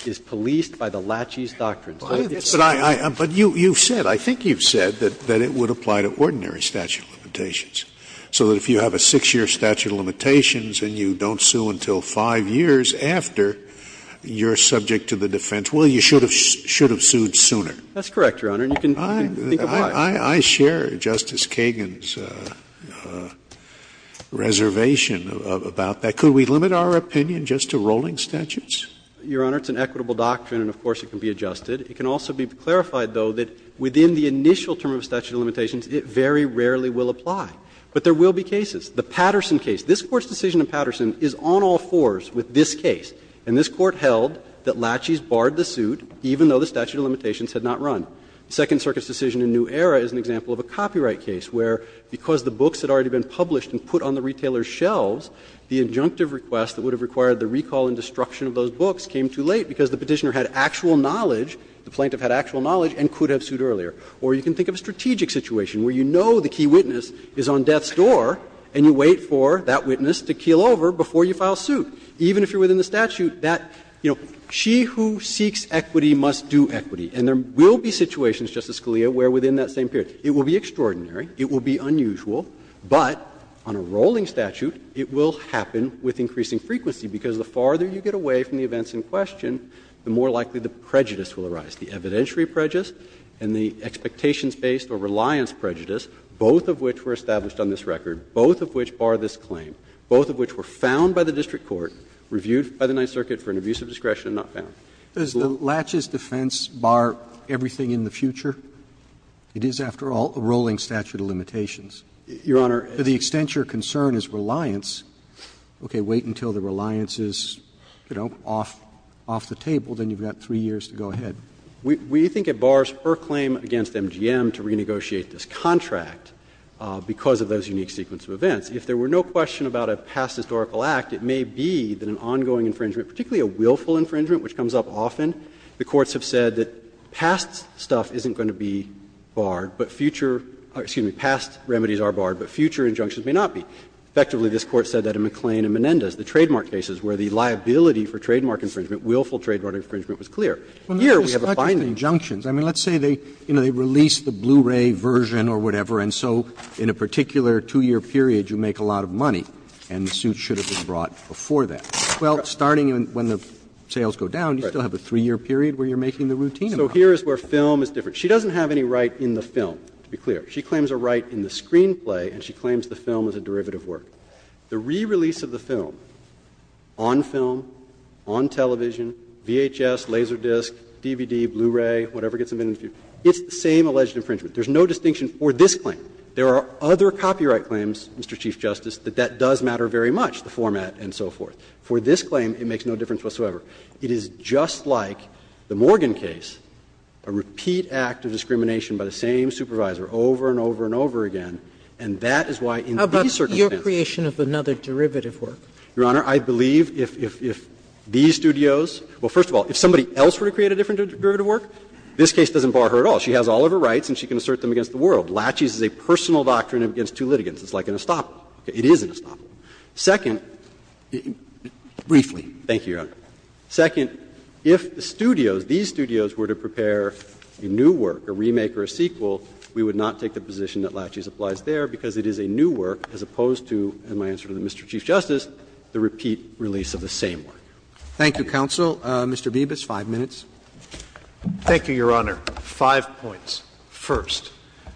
is policed by the laches doctrine. So I think that's right. Scalia, but you've said, I think you've said, that it would apply to ordinary statute of limitations. So that if you have a six-year statute of limitations and you don't sue until five years after you're subject to the defense, well, you should have sued sooner. That's correct, Your Honor, and you can think of why. I share Justice Kagan's reservation about that. Could we limit our opinion just to rolling statutes? Your Honor, it's an equitable doctrine and, of course, it can be adjusted. It can also be clarified, though, that within the initial term of statute of limitations, it very rarely will apply. But there will be cases. The Patterson case. This Court's decision in Patterson is on all fours with this case. And this Court held that laches barred the suit, even though the statute of limitations had not run. The Second Circuit's decision in New Era is an example of a copyright case where, because the books had already been published and put on the retailer's shelves, the injunctive request that would have required the recall and destruction of those books came too late because the Petitioner had actual knowledge, the plaintiff had actual knowledge, and could have sued earlier. Or you can think of a strategic situation where you know the key witness is on death's door, and you wait for that witness to keel over before you file suit, even if you're within the statute. That, you know, she who seeks equity must do equity. And there will be situations, Justice Scalia, where within that same period. It will be extraordinary, it will be unusual, but on a rolling statute, it will happen with increasing frequency, because the farther you get away from the events in question, the more likely the prejudice will arise, the evidentiary prejudice and the expectations-based or reliance prejudice, both of which were established on this record, both of which bar this claim, both of which were found by the district court, reviewed by the Ninth Circuit for an abuse of discretion and not found. Roberts, does the Latches defense bar everything in the future? It is, after all, a rolling statute of limitations. Your Honor, the extent your concern is reliance, okay, wait until the reliance is, you know, off the table, then you've got three years to go ahead. We think it bars her claim against MGM to renegotiate this contract because of those unique sequence of events. If there were no question about a past historical act, it may be that an ongoing infringement, particularly a willful infringement, which comes up often, the courts have said that past stuff isn't going to be barred, but future or, excuse me, past remedies are barred, but future injunctions may not be. Effectively, this Court said that in McLean and Menendez, the trademark cases where the liability for trademark infringement, willful trademark infringement, was clear. Here we have a binding. Roberts, this is not just injunctions. I mean, let's say they release the Blu-ray version or whatever, and so in a particular two-year period, you make a lot of money, and the suit should have been brought before that. Well, starting when the sales go down, you still have a three-year period where you're making the routine income. So here is where film is different. She doesn't have any right in the film, to be clear. She claims a right in the screenplay, and she claims the film is a derivative work. The re-release of the film, on film, on television, VHS, Laserdisc, DVD, Blu-ray, whatever gets submitted to you, it's the same alleged infringement. There's no distinction for this claim. There are other copyright claims, Mr. Chief Justice, that that does matter very much, the format and so forth. For this claim, it makes no difference whatsoever. It is just like the Morgan case, a repeat act of discrimination by the same supervisor over and over and over again, and that is why in these circumstances. Sotomayor, what about the creation of another derivative work? Your Honor, I believe if these studios – well, first of all, if somebody else were to create a different derivative work, this case doesn't bar her at all. She has all of her rights, and she can assert them against the world. Lachey's is a personal doctrine against two litigants. It's like an estoppel. It is an estoppel. Second – Briefly. Thank you, Your Honor. Second, if the studios, these studios, were to prepare a new work, a remake or a sequel, we would not take the position that Lachey's applies there because it is a new work as opposed to, in my answer to Mr. Chief Justice, the repeat release of the same work. Thank you, counsel. Mr. Bibas, 5 minutes. Thank you, Your Honor. Five points. First,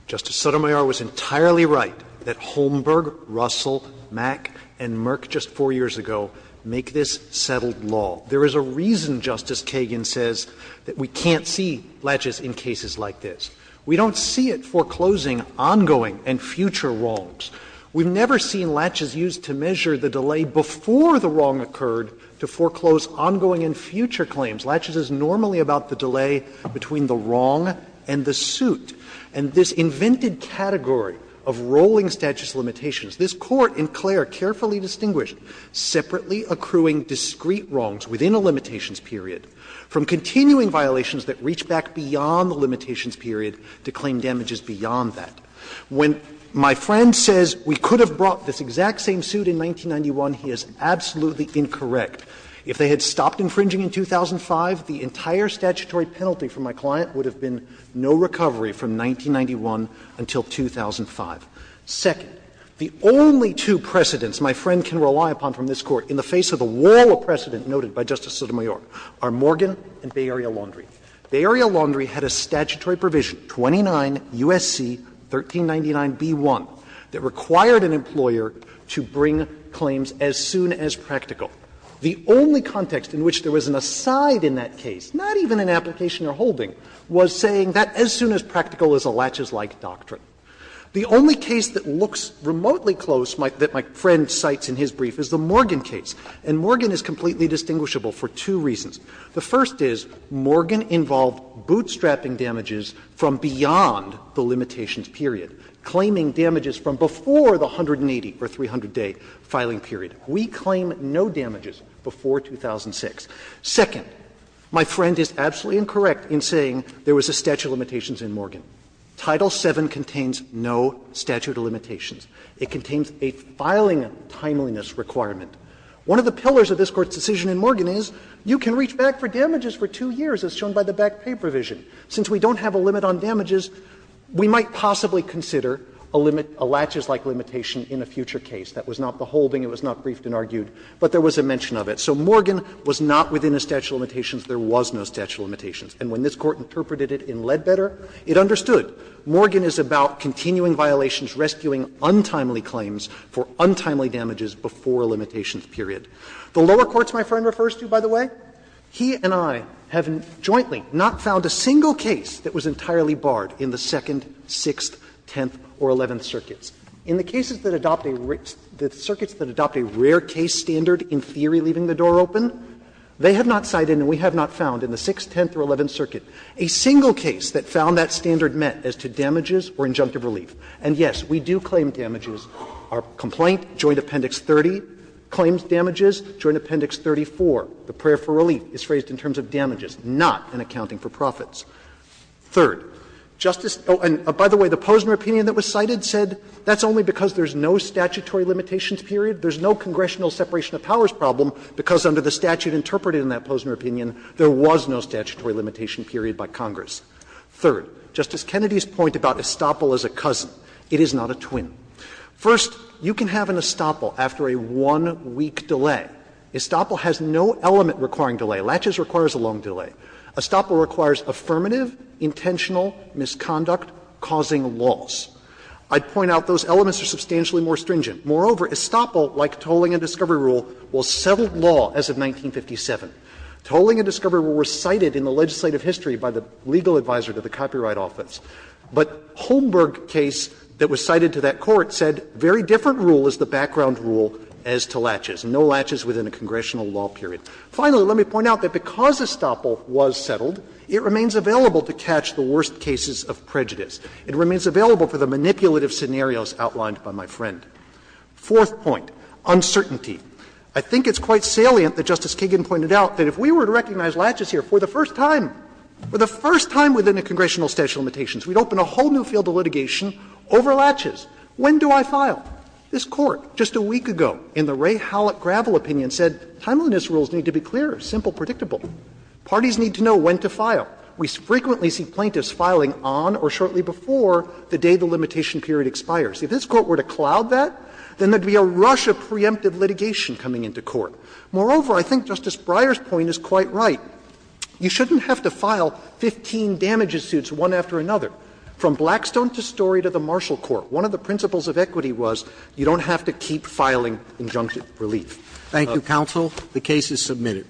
Justice Sotomayor was entirely right that Holmberg, Russell, Mack, and Merck just 4 years ago make this settled law. There is a reason, Justice Kagan says, that we can't see Lachey's in cases like this. We don't see it foreclosing ongoing and future wrongs. We've never seen Lachey's used to measure the delay before the wrong occurred to foreclose ongoing and future claims. Lachey's is normally about the delay between the wrong and the suit. And this invented category of rolling status limitations, this Court in Clare carefully distinguished separately accruing discrete wrongs within a limitations period from continuing violations that reach back beyond the limitations period to claim damages beyond that. When my friend says we could have brought this exact same suit in 1991, he is absolutely incorrect. If they had stopped infringing in 2005, the entire statutory penalty for my client would have been no recovery from 1991 until 2005. Second, the only two precedents my friend can rely upon from this Court in the face of the wall of precedent noted by Justice Sotomayor are Morgan and Bay Area Laundry. Bay Area Laundry had a statutory provision, 29 U.S.C. 1399b1, that required an employer to bring claims as soon as practical. The only context in which there was an aside in that case, not even an application or holding, was saying that as soon as practical is a Lachey's-like doctrine. The only case that looks remotely close, that my friend cites in his brief, is the Morgan case. And Morgan is completely distinguishable for two reasons. The first is Morgan involved bootstrapping damages from beyond the limitations period, claiming damages from before the 180 or 300-day filing period. We claim no damages before 2006. Second, my friend is absolutely incorrect in saying there was a statute of limitations in Morgan. Title VII contains no statute of limitations. It contains a filing timeliness requirement. One of the pillars of this Court's decision in Morgan is you can reach back for damages for two years, as shown by the back pay provision. Since we don't have a limit on damages, we might possibly consider a limit, a Lachey's-like limitation in a future case. That was not the holding, it was not briefed and argued, but there was a mention of it. So Morgan was not within a statute of limitations. There was no statute of limitations. And when this Court interpreted it in Ledbetter, it understood. Morgan is about continuing violations, rescuing untimely claims for untimely damages before a limitations period. The lower courts my friend refers to, by the way, he and I have jointly not found a single case that was entirely barred in the Second, Sixth, Tenth or Eleventh circuits. In the cases that adopt a rare case standard in theory leaving the door open, they have not cited and we have not found in the Sixth, Tenth or Eleventh circuit a single case that found that standard met as to damages or injunctive relief. And yes, we do claim damages. Our complaint, Joint Appendix 30, claims damages. Joint Appendix 34, the prayer for relief, is phrased in terms of damages, not an accounting for profits. Third, Justice — oh, and by the way, the Posner opinion that was cited said that's only because there's no statutory limitations period, there's no congressional separation of powers problem, because under the statute interpreted in that Posner opinion, there was no statutory limitation period by Congress. Third, Justice Kennedy's point about estoppel as a cousin, it is not a twin. First, you can have an estoppel after a one-week delay. Estoppel has no element requiring delay. Latches requires a long delay. Estoppel requires affirmative, intentional misconduct causing laws. I'd point out those elements are substantially more stringent. Moreover, estoppel, like tolling and discovery rule, will settle law as of 1957. Tolling and discovery rule were cited in the legislative history by the legal advisor to the copyright office. But Holmberg case that was cited to that court said very different rule is the background rule as to latches, no latches within a congressional law period. Finally, let me point out that because estoppel was settled, it remains available to catch the worst cases of prejudice. It remains available for the manipulative scenarios outlined by my friend. Fourth point, uncertainty. I think it's quite salient that Justice Kagan pointed out that if we were to recognize latches here for the first time, for the first time within a congressional statute of limitations, we'd open a whole new field of litigation over latches. When do I file? This Court just a week ago in the Ray Hallett Gravel opinion said timeliness rules need to be clear, simple, predictable. Parties need to know when to file. We frequently see plaintiffs filing on or shortly before the day the limitation period expires. If this Court were to cloud that, then there would be a rush of preemptive litigation coming into court. Moreover, I think Justice Breyer's point is quite right. You shouldn't have to file 15 damages suits one after another, from Blackstone to Story to the Marshall Court. One of the principles of equity was you don't have to keep filing injunctive relief. Roberts. Thank you, counsel. The case is submitted.